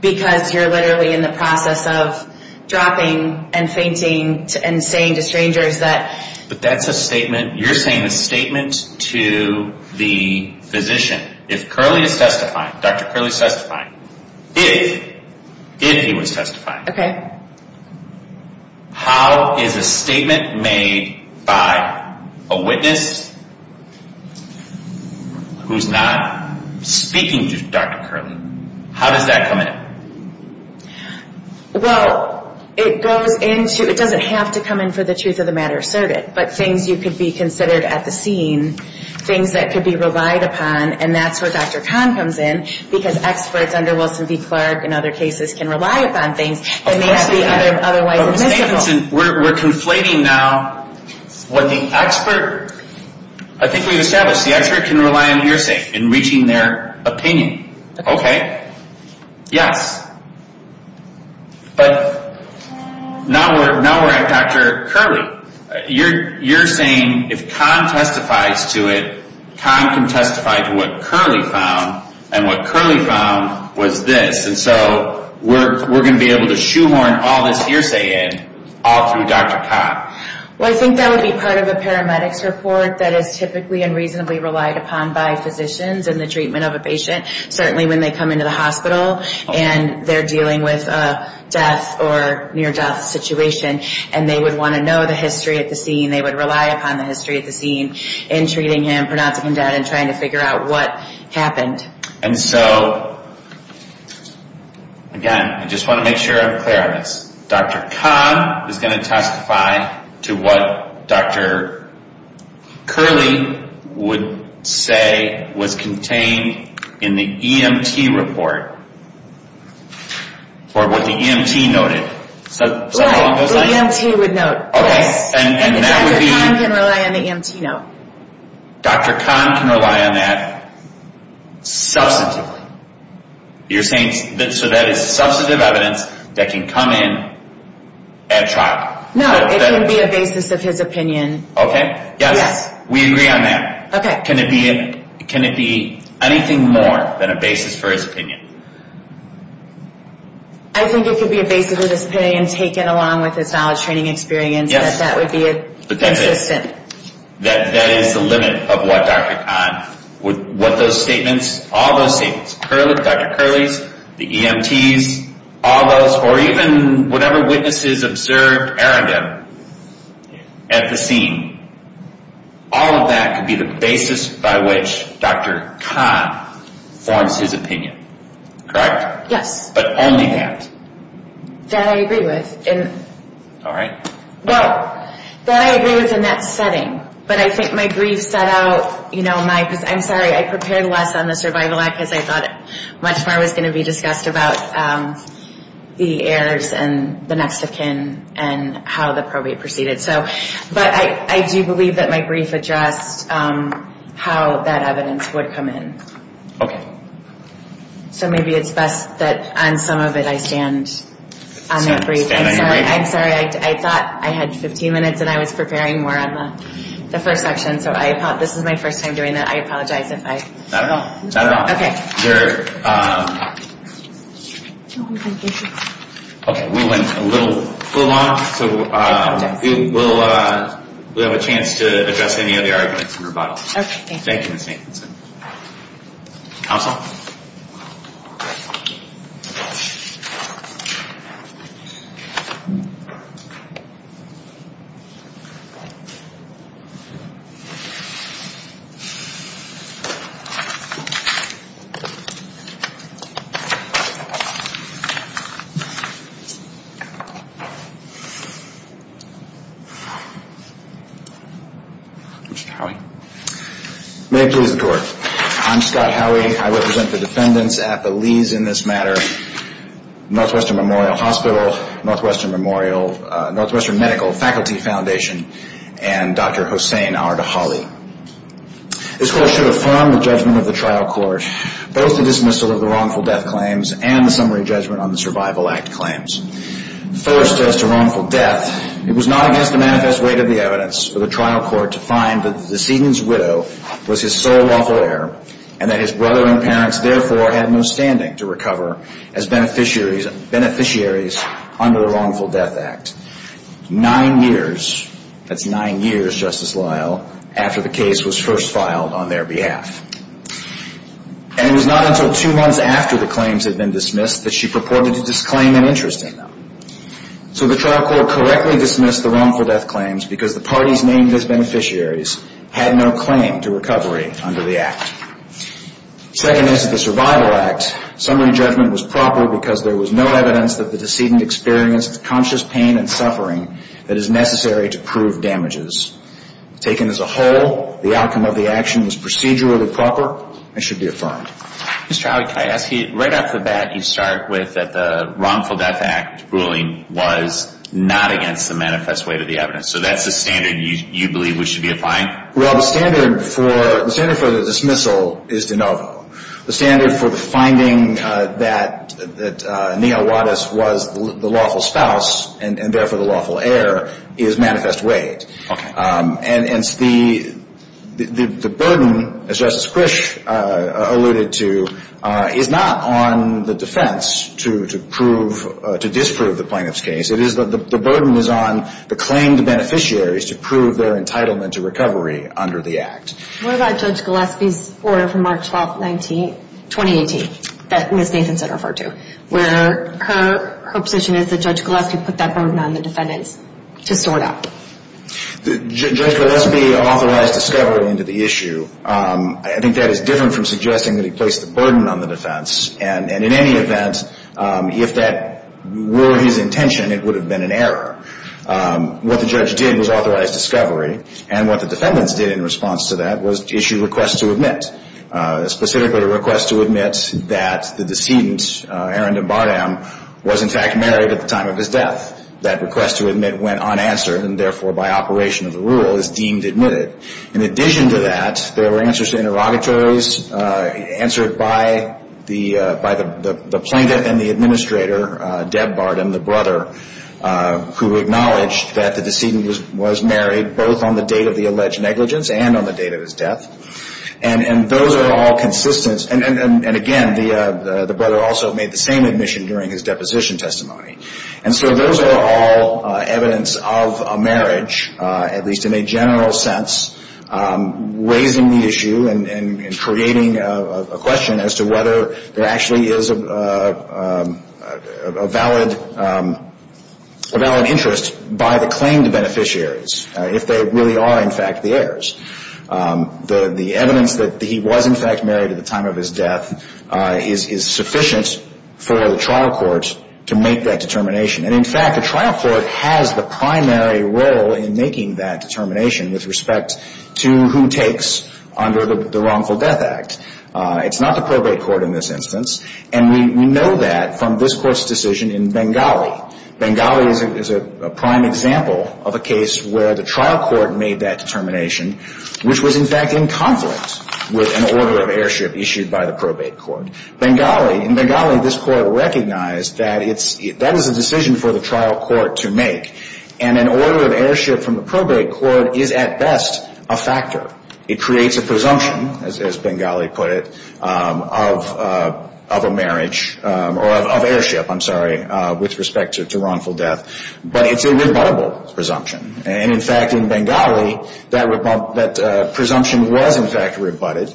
because you're literally in the process of dropping and fainting and saying to strangers that... But that's a statement. You're saying a statement to the physician. If Curley is testifying, Dr. Curley is testifying, if he was testifying. Okay. How is a statement made by a witness who's not speaking to Dr. Curley? How does that come in? Well, it goes into... It doesn't have to come in for the truth of the matter asserted, but things you could be considered at the scene, things that could be relied upon, and that's where Dr. Kahn comes in, because experts under Wilson v. Clark and other cases can rely upon things that may not be otherwise admissible. We're conflating now what the expert... I think we've established the expert can rely on hearsay in reaching their opinion. Okay. Yes. But now we're at Dr. Curley. You're saying if Kahn testifies to it, Kahn can testify to what Curley found, and what Curley found was this. And so we're going to be able to shoehorn all this hearsay in all through Dr. Kahn. Well, I think that would be part of a paramedics report that is typically and reasonably relied upon by physicians in the treatment of a patient, certainly when they come into the hospital and they're dealing with a death or near-death situation, and they would want to know the history at the scene. They would rely upon the history at the scene in treating him, pronouncing him dead, and trying to figure out what happened. And so, again, I just want to make sure I'm clear on this. Dr. Kahn is going to testify to what Dr. Curley would say was contained in the EMT report, or what the EMT noted. Right, the EMT would note. And Dr. Kahn can rely on the EMT note. Dr. Kahn can rely on that substantively. You're saying that is substantive evidence that can come in at trial. No, it can be a basis of his opinion. Okay, yes, we agree on that. Can it be anything more than a basis for his opinion? I think it could be a basis of his opinion, taken along with his knowledge, training, and experience, that that would be consistent. Yes, but that is the limit of what Dr. Kahn would, what those statements, all those statements, Dr. Curley's, the EMT's, all those, or even whatever witnesses observed Aaron did at the scene, all of that could be the basis by which Dr. Kahn forms his opinion. Correct? Yes. But only that. That I agree with. All right. Well, that I agree with in that setting. But I think my grief set out, you know, my, I'm sorry, I prepared less on the survival act because I thought much more was going to be discussed about the heirs and the next of kin and how the probate proceeded. So, but I do believe that my brief addressed how that evidence would come in. Okay. So maybe it's best that on some of it I stand on that brief. Stand on your brief. I'm sorry. I thought I had 15 minutes and I was preparing more on the first section. So I, this is my first time doing that. I apologize if I. Not at all. Not at all. Okay. There. Okay. We went a little long. So we'll have a chance to address any of the arguments in rebuttal. Okay. Thank you, Ms. Nathanson. Counsel. Mr. Howey. May it please the court. I'm Scott Howey. I represent the defendants at the Lees in this matter, Northwestern Memorial Hospital, Northwestern Memorial, Northwestern Medical Faculty Foundation, and Dr. Hossain Al-Ridahali. This court should affirm the judgment of the trial court. Both the dismissal of the wrongful death claims and the summary judgment on the Survival Act claims. First, as to wrongful death, it was not against the manifest weight of the evidence for the trial court to find that the decedent's widow was his sole lawful heir and that his brother and parents therefore had no standing to recover as beneficiaries under the Wrongful Death Act. Nine years, that's nine years, Justice Lyle, after the case was first filed on their behalf. And it was not until two months after the claims had been dismissed that she purported to disclaim an interest in them. So the trial court correctly dismissed the wrongful death claims because the parties named as beneficiaries had no claim to recovery under the Act. Second is that the Survival Act summary judgment was proper because there was no evidence that the decedent experienced conscious pain and suffering that is necessary to prove damages. Taken as a whole, the outcome of the action was procedurally proper and should be affirmed. Mr. Howie, can I ask you, right off the bat, you start with that the Wrongful Death Act ruling was not against the manifest weight of the evidence. So that's the standard you believe we should be applying? Well, the standard for the dismissal is de novo. The standard for the finding that Neal Wattis was the lawful spouse and therefore the lawful heir is manifest weight. Okay. And the burden, as Justice Krish alluded to, is not on the defense to disprove the plaintiff's case. It is that the burden is on the claimed beneficiaries to prove their entitlement to recovery under the Act. What about Judge Gillespie's order from March 12, 2018 that Ms. Nathanson referred to where her position is that Judge Gillespie put that burden on the defendants to sort out? Judge Gillespie authorized discovery into the issue. I think that is different from suggesting that he placed the burden on the defense. And in any event, if that were his intention, it would have been an error. What the judge did was authorize discovery, and what the defendants did in response to that was issue requests to admit, specifically a request to admit that the decedent, Aaron de Bardem, was in fact married at the time of his death. That request to admit went unanswered and therefore by operation of the rule is deemed admitted. In addition to that, there were answers to interrogatories answered by the plaintiff and the administrator, Deb Bardem, the brother, who acknowledged that the decedent was married both on the date of the alleged negligence and on the date of his death. And those are all consistent. And again, the brother also made the same admission during his deposition testimony. And so those are all evidence of a marriage, at least in a general sense, raising the issue and creating a question as to whether there actually is a valid interest by the claimed beneficiaries, if they really are in fact the heirs. The evidence that he was in fact married at the time of his death is sufficient for the trial court to make that determination. And in fact, the trial court has the primary role in making that determination with respect to who takes under the Wrongful Death Act. It's not the probate court in this instance. And we know that from this court's decision in Bengali. Bengali is a prime example of a case where the trial court made that determination which was in fact in conflict with an order of heirship issued by the probate court. Bengali, in Bengali, this court recognized that that is a decision for the trial court to make. And an order of heirship from the probate court is at best a factor. It creates a presumption, as Bengali put it, of a marriage or of heirship, I'm sorry, with respect to wrongful death. But it's a rebuttable presumption. And in fact, in Bengali, that presumption was in fact rebutted.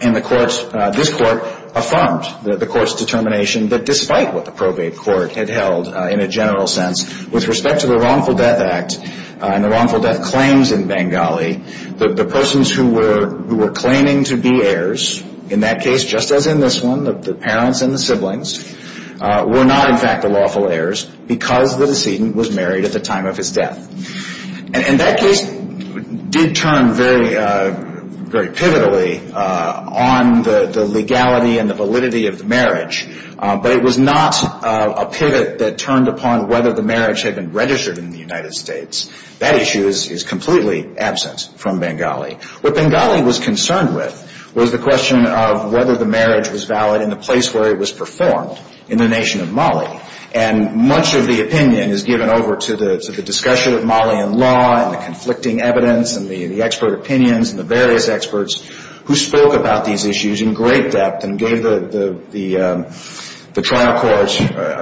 And this court affirmed the court's determination that despite what the probate court had held in a general sense with respect to the Wrongful Death Act and the wrongful death claims in Bengali, the persons who were claiming to be heirs in that case, just as in this one, the parents and the siblings, were not in fact the lawful heirs because the decedent was married at the time of his death. And that case did turn very pivotally on the legality and the validity of the marriage. But it was not a pivot that turned upon whether the marriage had been registered in the United States. That issue is completely absent from Bengali. What Bengali was concerned with was the question of whether the marriage was valid in the place where it was performed, in the nation of Mali. And much of the opinion is given over to the discussion of Malian law and the conflicting evidence and the expert opinions and the various experts who spoke about these issues in great depth and gave the trial court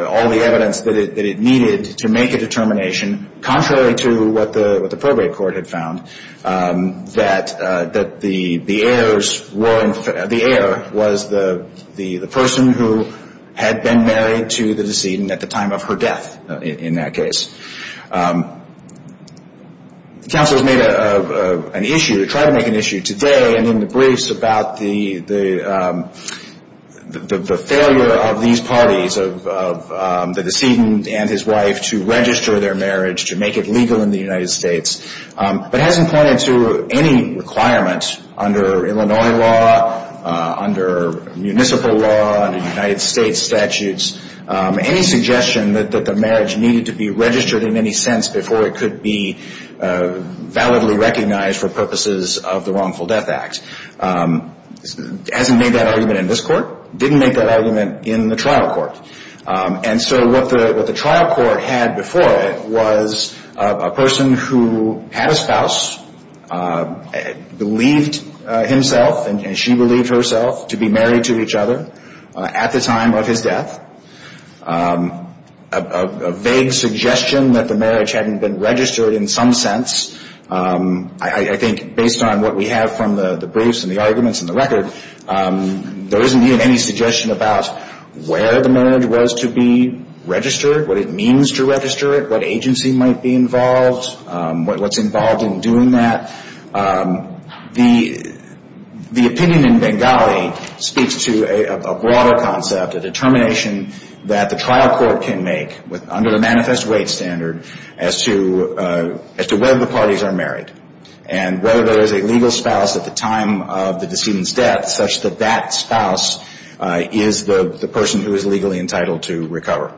all the evidence that it needed to make a determination, contrary to what the probate court had found, that the heirs were the heir was the person who had been married to the decedent at the time of her death in that case. The council has made an issue, tried to make an issue today and in the briefs, about the failure of these parties, of the decedent and his wife, to register their marriage, to make it legal in the United States, but hasn't pointed to any requirement under Illinois law, under municipal law, under United States statutes, any suggestion that the marriage needed to be registered in any sense before it could be validly recognized for purposes of the Wrongful Death Act. Hasn't made that argument in this court. Didn't make that argument in the trial court. And so what the trial court had before it was a person who had a spouse, believed himself and she believed herself to be married to each other at the time of his death. A vague suggestion that the marriage hadn't been registered in some sense. I think based on what we have from the briefs and the arguments and the record, there isn't even any suggestion about where the marriage was to be registered, what it means to register it, what agency might be involved, what's involved in doing that. The opinion in Bengali speaks to a broader concept, a determination that the trial court can make under the manifest weight standard as to whether the parties are married and whether there is a legal spouse at the time of the decedent's death such that that spouse is the person who is legally entitled to recover.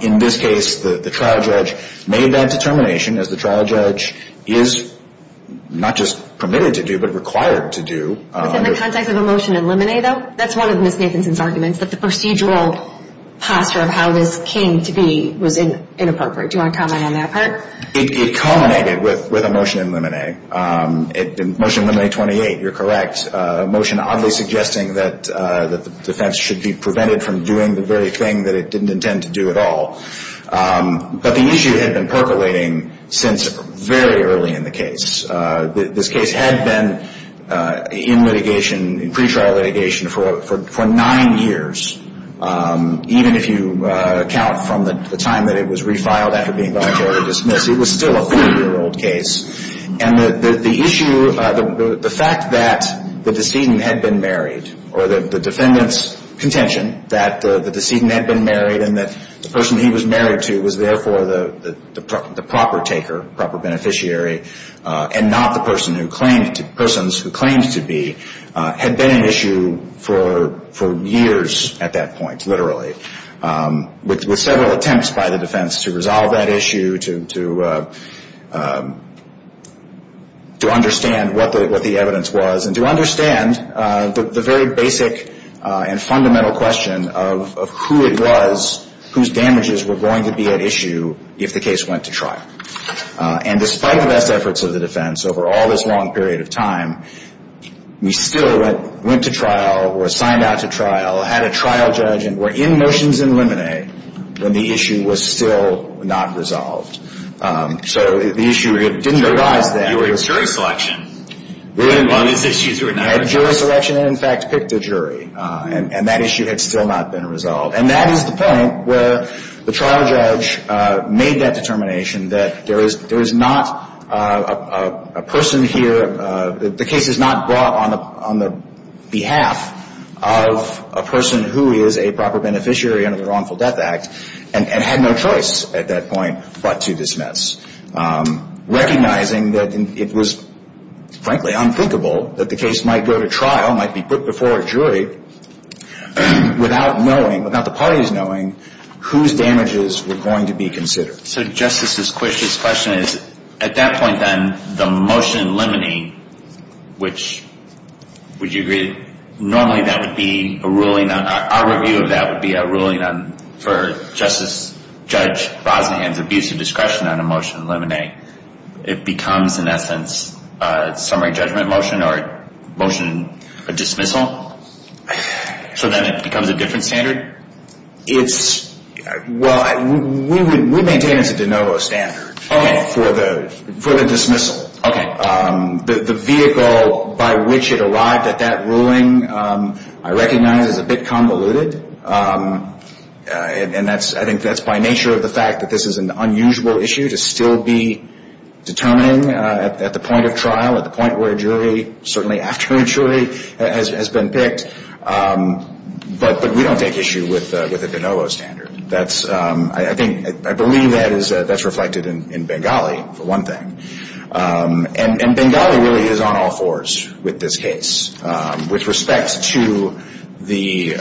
In this case, the trial judge made that determination, as the trial judge is not just permitted to do but required to do. Within the context of a motion in limine, though? That's one of Ms. Nathanson's arguments, that the procedural posture of how this came to be was inappropriate. Do you want to comment on that part? It culminated with a motion in limine. Motion in limine 28, you're correct, a motion oddly suggesting that the defense should be prevented from doing the very thing that it didn't intend to do at all. But the issue had been percolating since very early in the case. This case had been in litigation, in pretrial litigation, for nine years, even if you count from the time that it was refiled after being voluntarily dismissed. It was still a 40-year-old case. And the issue, the fact that the decedent had been married, or the defendant's contention that the decedent had been married and that the person he was married to was therefore the proper taker, proper beneficiary, and not the persons who claimed to be, had been an issue for years at that point, literally, with several attempts by the defense to resolve that issue, to understand what the evidence was, and to understand the very basic and fundamental question of who it was, whose damages were going to be at issue if the case went to trial. And despite the best efforts of the defense over all this long period of time, we still went to trial, were assigned out to trial, had a trial judge, and were in motions in limine when the issue was still not resolved. So the issue didn't arise then. You were in jury selection. We had jury selection and, in fact, picked a jury, and that issue had still not been resolved. And that is the point where the trial judge made that determination that there is not a person here, the case is not brought on the behalf of a person who is a proper beneficiary under the Wrongful Death Act, and had no choice at that point but to dismiss, recognizing that it was, frankly, unthinkable that the case might go to trial, might be put before a jury, without knowing, without the parties knowing, whose damages were going to be considered. So Justice Squish's question is, at that point then, the motion in limine, which would you agree normally that would be a ruling on, our review of that would be a ruling on, for Justice Judge Bosnian's abuse of discretion on a motion in limine, it becomes, in essence, a summary judgment motion or a motion, a dismissal? So then it becomes a different standard? It's, well, we maintain it's a de novo standard for the dismissal. The vehicle by which it arrived at that ruling I recognize is a bit convoluted, and I think that's by nature of the fact that this is an unusual issue to still be determining at the point of trial, at the point where a jury, certainly after a jury, has been picked. But we don't take issue with a de novo standard. That's, I think, I believe that's reflected in Bengali, for one thing. And Bengali really is on all fours with this case, with respect to the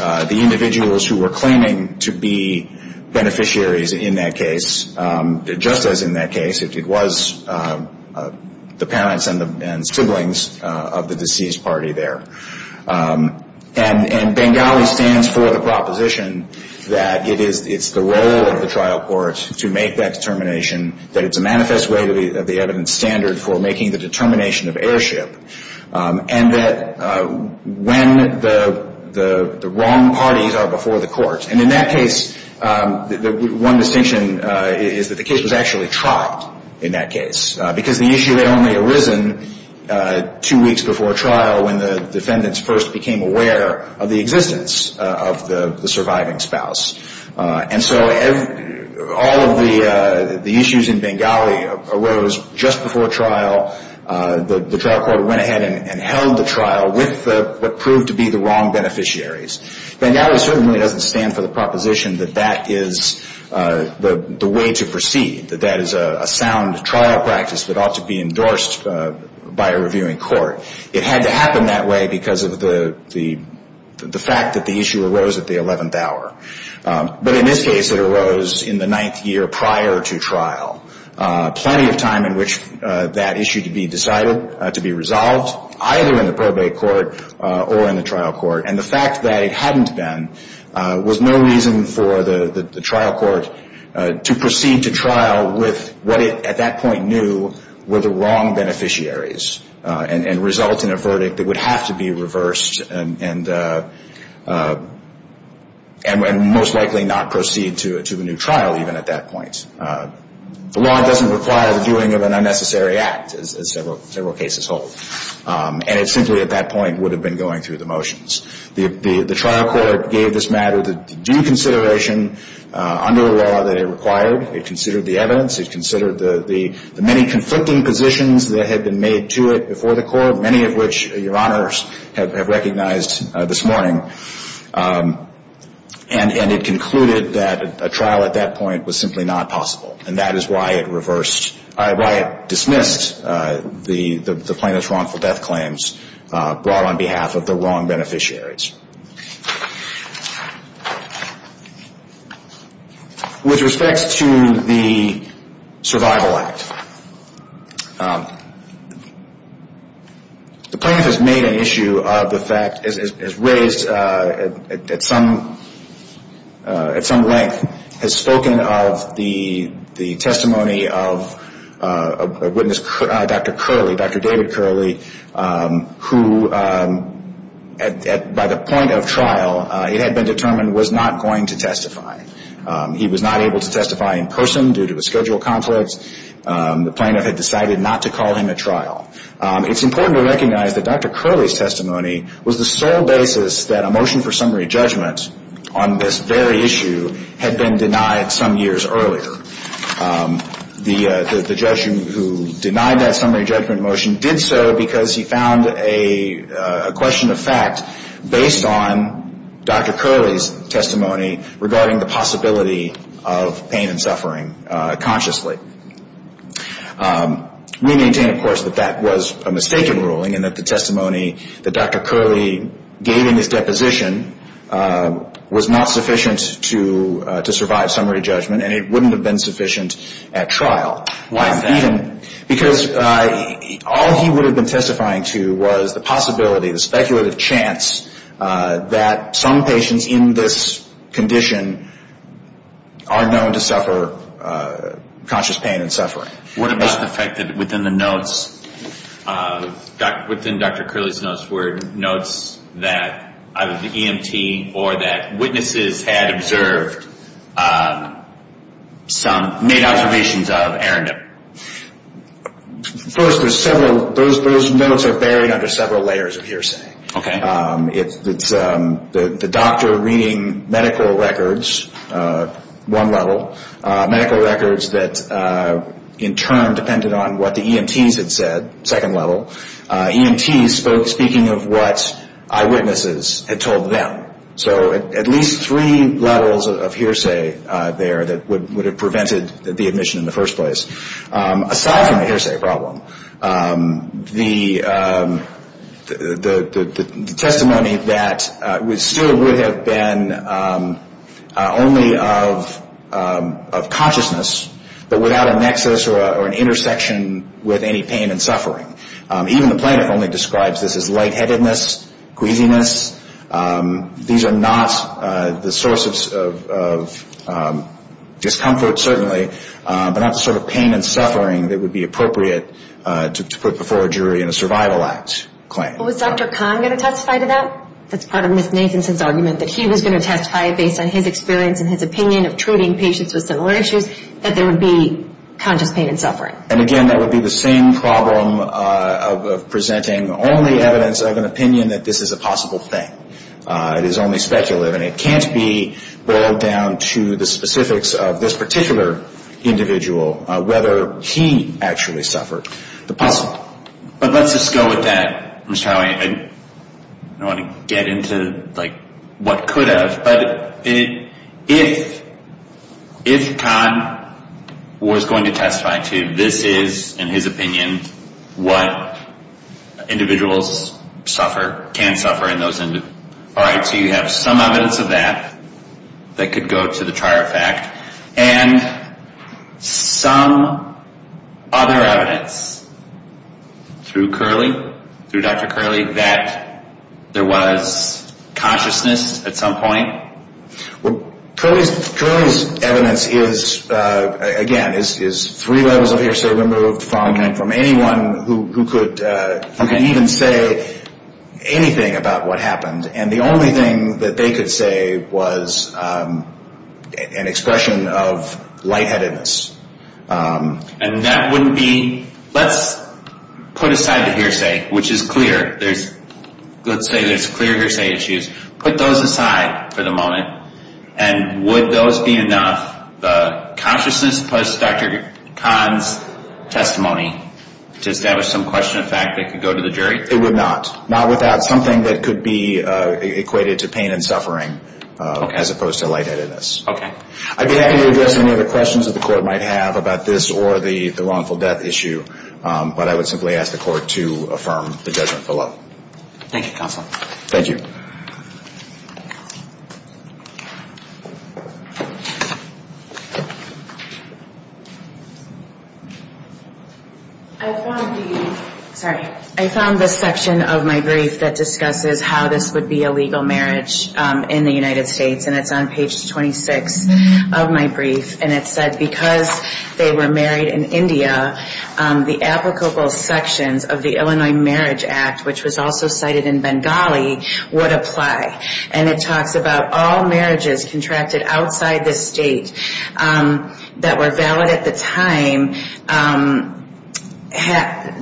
individuals who were claiming to be beneficiaries in that case, just as in that case it was the parents and siblings of the deceased party there. And Bengali stands for the proposition that it's the role of the trial court to make that determination, that it's a manifest way of the evidence standard for making the determination of heirship, and that when the wrong parties are before the court. And in that case, one distinction is that the case was actually tried in that case, because the issue had only arisen two weeks before trial when the defendants first became aware of the existence of the surviving spouse. And so all of the issues in Bengali arose just before trial. The trial court went ahead and held the trial with what proved to be the wrong beneficiaries. Bengali certainly doesn't stand for the proposition that that is the way to proceed, that that is a sound trial practice that ought to be endorsed by a reviewing court. It had to happen that way because of the fact that the issue arose at the 11th hour. But in this case, it arose in the ninth year prior to trial, plenty of time in which that issue could be decided, to be resolved, either in the probate court or in the trial court. And the fact that it hadn't been was no reason for the trial court to proceed to trial with what it at that point knew were the wrong beneficiaries and result in a verdict that would have to be reversed and most likely not proceed to a new trial even at that point. The law doesn't require the doing of an unnecessary act, as several cases hold. And it simply at that point would have been going through the motions. The trial court gave this matter due consideration under the law that it required. It considered the evidence. It considered the many conflicting positions that had been made to it before the court, many of which Your Honors have recognized this morning. And it concluded that a trial at that point was simply not possible. And that is why it dismissed the plaintiff's wrongful death claims brought on behalf of the wrong beneficiaries. With respect to the Survival Act, the plaintiff has made an issue of the fact, has raised at some length, has spoken of the testimony of a witness, Dr. Curley, Dr. David Curley, who by the point of trial, it had been determined, was not going to testify. He was not able to testify in person due to a schedule conflict. The plaintiff had decided not to call him at trial. It's important to recognize that Dr. Curley's testimony was the sole basis that a motion for summary judgment on this very issue had been denied some years earlier. The judge who denied that summary judgment motion did so because he found a question of fact based on Dr. Curley's testimony regarding the possibility of pain and suffering consciously. We maintain, of course, that that was a mistaken ruling and that the testimony that Dr. Curley gave in his deposition was not sufficient to survive summary judgment and it wouldn't have been sufficient at trial. Why is that? Because all he would have been testifying to was the possibility, the speculative chance, that some patients in this condition are known to suffer conscious pain and suffering. What about the fact that within the notes, within Dr. Curley's notes, were notes that either the EMT or that witnesses had observed some, made observations of, errandom? First, those notes are buried under several layers of hearsay. Okay. It's the doctor reading medical records, one level, medical records that in turn depended on what the EMTs had said, second level, EMTs speaking of what eyewitnesses had told them. So at least three levels of hearsay there that would have prevented the admission in the first place. Aside from the hearsay problem, the testimony that still would have been only of consciousness, but without a nexus or an intersection with any pain and suffering. Even the plaintiff only describes this as lightheadedness, queasiness. These are not the sources of discomfort, certainly, but not the sort of pain and suffering that would be appropriate to put before a jury in a survival act claim. Was Dr. Kahn going to testify to that? That's part of Ms. Nathanson's argument, that he was going to testify based on his experience and his opinion of treating patients with similar issues, that there would be conscious pain and suffering. And again, that would be the same problem of presenting only evidence of an opinion that this is a possible thing. It is only speculative, and it can't be boiled down to the specifics of this particular individual, whether he actually suffered the possible. But let's just go with that, Mr. Howey. I don't want to get into what could have, but if Kahn was going to testify to this is, in his opinion, what individuals suffer, can suffer in those individuals. All right, so you have some evidence of that that could go to the trier of fact, and some other evidence through Curley, through Dr. Curley, that there was consciousness at some point? Well, Curley's evidence is, again, is three levels of hearsay removed from anyone who could even say anything about what happened. And the only thing that they could say was an expression of lightheadedness. And that wouldn't be, let's put aside the hearsay, which is clear. Let's say there's clear hearsay issues. Put those aside for the moment. And would those be enough, the consciousness plus Dr. Kahn's testimony, to establish some question of fact that could go to the jury? It would not. Not without something that could be equated to pain and suffering as opposed to lightheadedness. Okay. I'd be happy to address any other questions that the Court might have about this or the wrongful death issue, but I would simply ask the Court to affirm the judgment below. Thank you, Counsel. Thank you. I found the section of my brief that discusses how this would be a legal marriage in the United States, and it's on page 26 of my brief. And it said because they were married in India, the applicable sections of the Illinois Marriage Act, which was also cited in Bengali, would apply. And it talks about all marriages contracted outside the state that were valid at the time,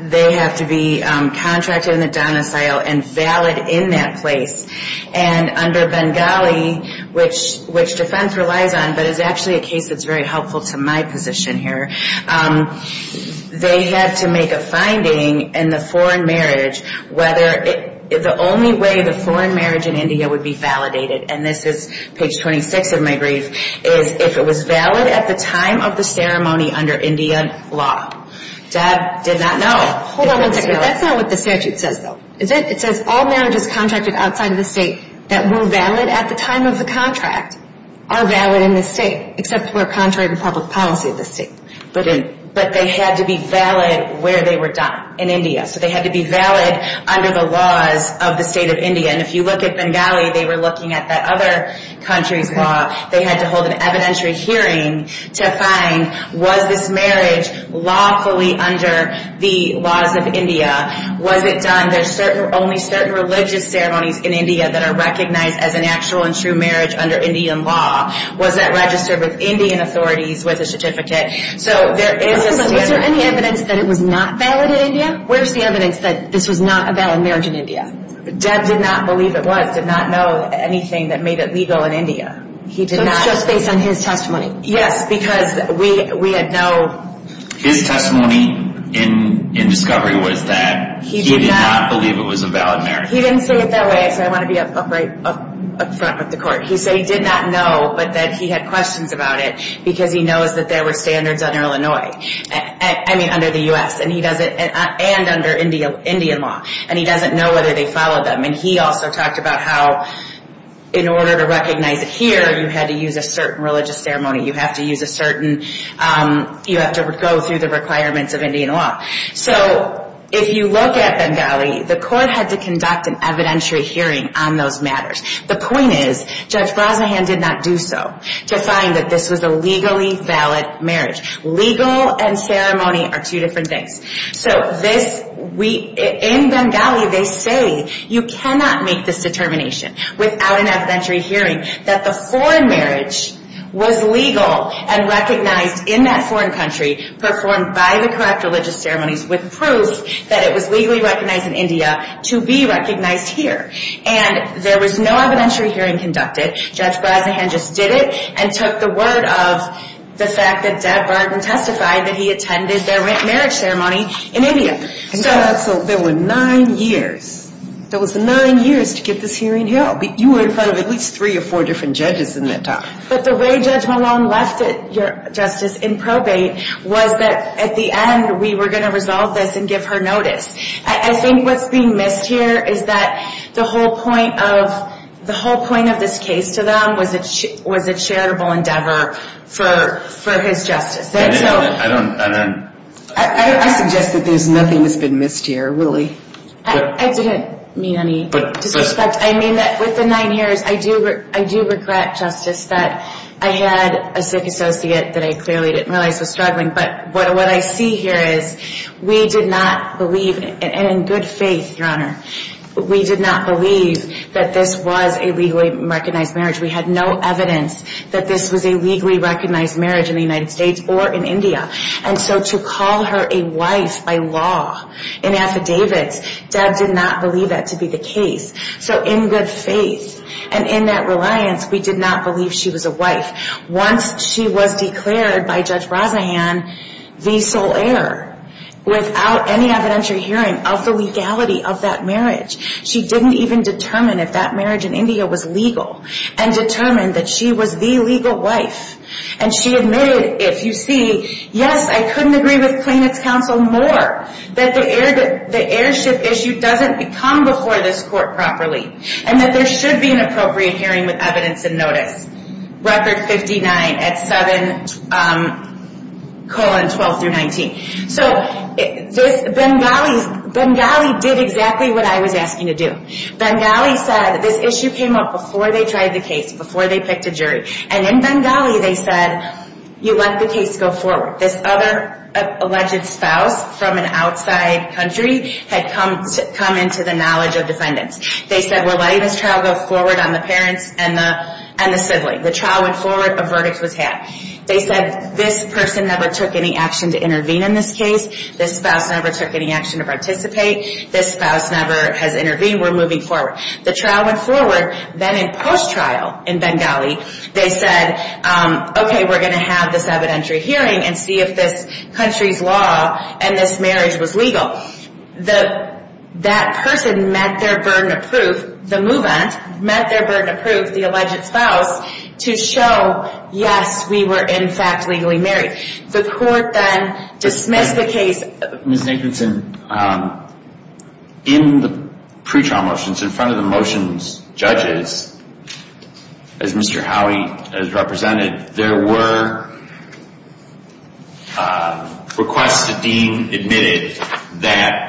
they have to be contracted in the donocile and valid in that place. And under Bengali, which defense relies on but is actually a case that's very helpful to my position here, they had to make a finding in the foreign marriage whether the only way the foreign marriage in India would be validated, and this is page 26 of my brief, is if it was valid at the time of the ceremony under Indian law. Deb did not know. Hold on one second. That's not what the statute says, though. Is it? It says all marriages contracted outside of the state that were valid at the time of the contract are valid in the state, except for contract and public policy of the state. But they had to be valid where they were done, in India. So they had to be valid under the laws of the state of India. And if you look at Bengali, they were looking at that other country's law. They had to hold an evidentiary hearing to find was this marriage lawfully under the laws of India. Was it done? There's only certain religious ceremonies in India that are recognized as an actual and true marriage under Indian law. Was it registered with Indian authorities with a certificate? So there is a standard. Is there any evidence that it was not valid in India? Where's the evidence that this was not a valid marriage in India? Deb did not believe it was, did not know anything that made it legal in India. He did not. So it's just based on his testimony. Yes, because we had no... His testimony in discovery was that he did not believe it was a valid marriage. He didn't say it that way, so I want to be up front with the court. He said he did not know, but that he had questions about it because he knows that there were standards under Illinois, I mean under the U.S., and under Indian law, and he doesn't know whether they followed them. And he also talked about how in order to recognize it here, you had to use a certain religious ceremony. You have to use a certain, you have to go through the requirements of Indian law. So if you look at Bengali, the court had to conduct an evidentiary hearing on those matters. The point is Judge Brazahan did not do so to find that this was a legally valid marriage. Legal and ceremony are two different things. So this, we, in Bengali they say you cannot make this determination without an evidentiary hearing that the foreign marriage was legal and recognized in that foreign country, performed by the correct religious ceremonies with proof that it was legally recognized in India to be recognized here. And there was no evidentiary hearing conducted. Judge Brazahan just did it and took the word of the fact that Deb Barton testified that he attended their marriage ceremony in India. So there were nine years. There was nine years to get this hearing held. You were in front of at least three or four different judges in that time. But the way Judge Malone left it, Justice, in probate was that at the end we were going to resolve this and give her notice. I think what's being missed here is that the whole point of this case to them was a charitable endeavor for his justice. I suggest that there's nothing that's been missed here, really. I didn't mean any disrespect. I mean that with the nine years, I do regret, Justice, that I had a sick associate that I clearly didn't realize was struggling. But what I see here is we did not believe, and in good faith, Your Honor, we did not believe that this was a legally recognized marriage. We had no evidence that this was a legally recognized marriage in the United States or in India. And so to call her a wife by law in affidavits, Deb did not believe that to be the case. So in good faith and in that reliance, we did not believe she was a wife. Once she was declared by Judge Razahan the sole heir without any evidentiary hearing of the legality of that marriage, she didn't even determine if that marriage in India was legal and determined that she was the legal wife. And she admitted, if you see, yes, I couldn't agree with plaintiff's counsel more that the heirship issue doesn't come before this court properly and that there should be an appropriate hearing with evidence and notice. Record 59 at 7 colon 12 through 19. So Bengali did exactly what I was asking to do. Bengali said this issue came up before they tried the case, before they picked a jury. And in Bengali they said, you let the case go forward. This other alleged spouse from an outside country had come into the knowledge of defendants. They said we're letting this trial go forward on the parents and the sibling. The trial went forward. A verdict was had. They said this person never took any action to intervene in this case. This spouse never took any action to participate. This spouse never has intervened. We're moving forward. The trial went forward. Then in post-trial in Bengali, they said, okay, we're going to have this evidentiary hearing and see if this country's law and this marriage was legal. So that person met their burden of proof, the move-in, met their burden of proof, the alleged spouse, to show, yes, we were in fact legally married. The court then dismissed the case. Ms. Nicholson, in the pre-trial motions, in front of the motions judges, as Mr. Howey has represented, there were requests to deem admitted that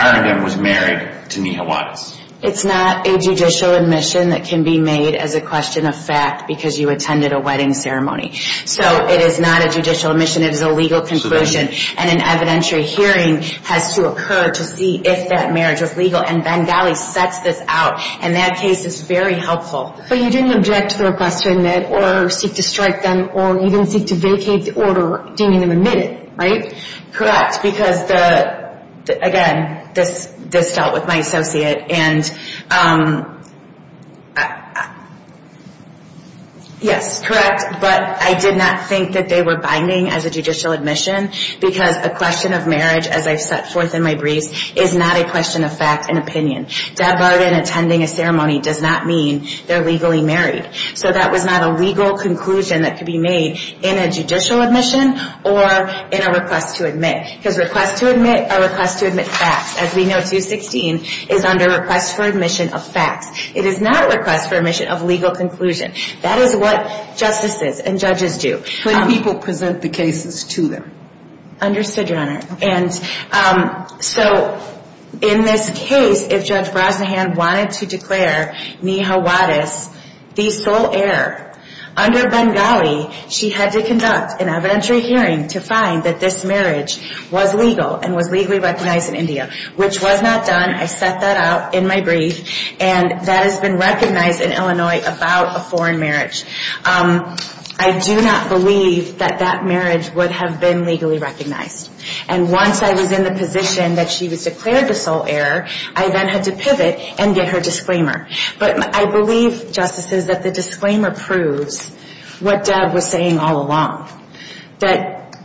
Arrington was married to Neha Wattis. It's not a judicial admission that can be made as a question of fact because you attended a wedding ceremony. So it is not a judicial admission. It is a legal conclusion, and an evidentiary hearing has to occur to see if that marriage was legal, and Bengali sets this out, and that case is very helpful. But you didn't object to the request to admit, or seek to strike them, or even seek to vacate the order deeming them admitted, right? Correct, because, again, this dealt with my associate, and yes, correct, but I did not think that they were binding as a judicial admission because a question of marriage, as I've set forth in my briefs, is not a question of fact and opinion. Deb Arden attending a ceremony does not mean they're legally married. So that was not a legal conclusion that could be made in a judicial admission or in a request to admit. Because request to admit are requests to admit facts. As we know, 216 is under request for admission of facts. It is not a request for admission of legal conclusion. That is what justices and judges do. When people present the cases to them. Understood, Your Honor. And so in this case, if Judge Brosnahan wanted to declare Neha Wadis the sole heir under Bengali, she had to conduct an evidentiary hearing to find that this marriage was legal and was legally recognized in India, which was not done. I set that out in my brief, and that has been recognized in Illinois about a foreign marriage. I do not believe that that marriage would have been legally recognized. And once I was in the position that she was declared the sole heir, I then had to pivot and get her disclaimer. But I believe, justices, that the disclaimer proves what Deb was saying all along. That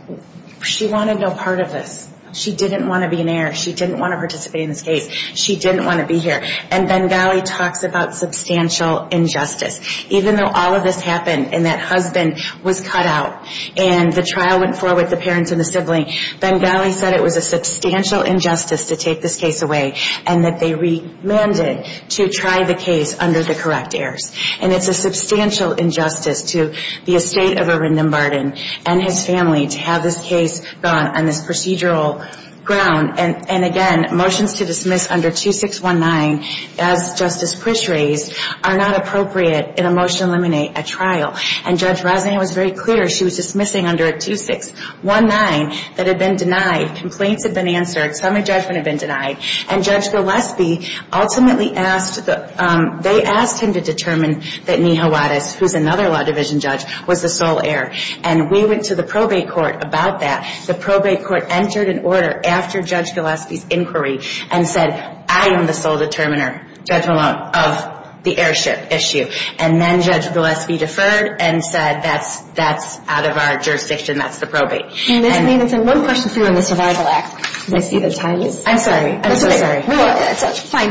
she wanted no part of this. She didn't want to be an heir. She didn't want to participate in this case. She didn't want to be here. And Bengali talks about substantial injustice. Even though all of this happened and that husband was cut out and the trial went forward, the parents and the sibling, Bengali said it was a substantial injustice to take this case away and that they remanded to try the case under the correct heirs. And it's a substantial injustice to the estate of Arindam Barden and his family to have this case gone on this procedural ground. And, again, motions to dismiss under 2619, as Justice Pritchett raised, are not appropriate in a motion to eliminate at trial. And Judge Gillespie was very clear. She was dismissing under a 2619 that had been denied. Complaints had been answered. Semi-judgment had been denied. And Judge Gillespie ultimately asked the ñ they asked him to determine that Nihawatus, who's another law division judge, was the sole heir. And we went to the probate court about that. The probate court entered an order after Judge Gillespie's inquiry and said, I am the sole determiner, Judge Malone, of the heirship issue. And then Judge Gillespie deferred and said, that's out of our jurisdiction. That's the probate. Ms. Nathanson, one question for you on the Survival Act. I'm sorry. I'm so sorry. It's fine.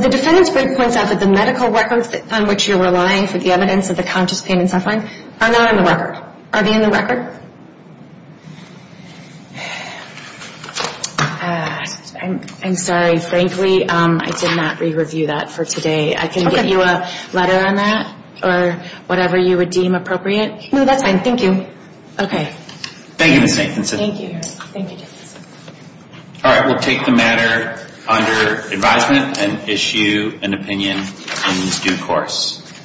The defendant's brief points out that the medical records on which you're relying for the evidence of the conscious pain and suffering are not in the record. Are they in the record? I'm sorry. Frankly, I did not re-review that for today. I can give you a letter on that or whatever you would deem appropriate. No, that's fine. Thank you. Okay. Thank you, Ms. Nathanson. Thank you. All right. We'll take the matter under advisement and issue an opinion in due course.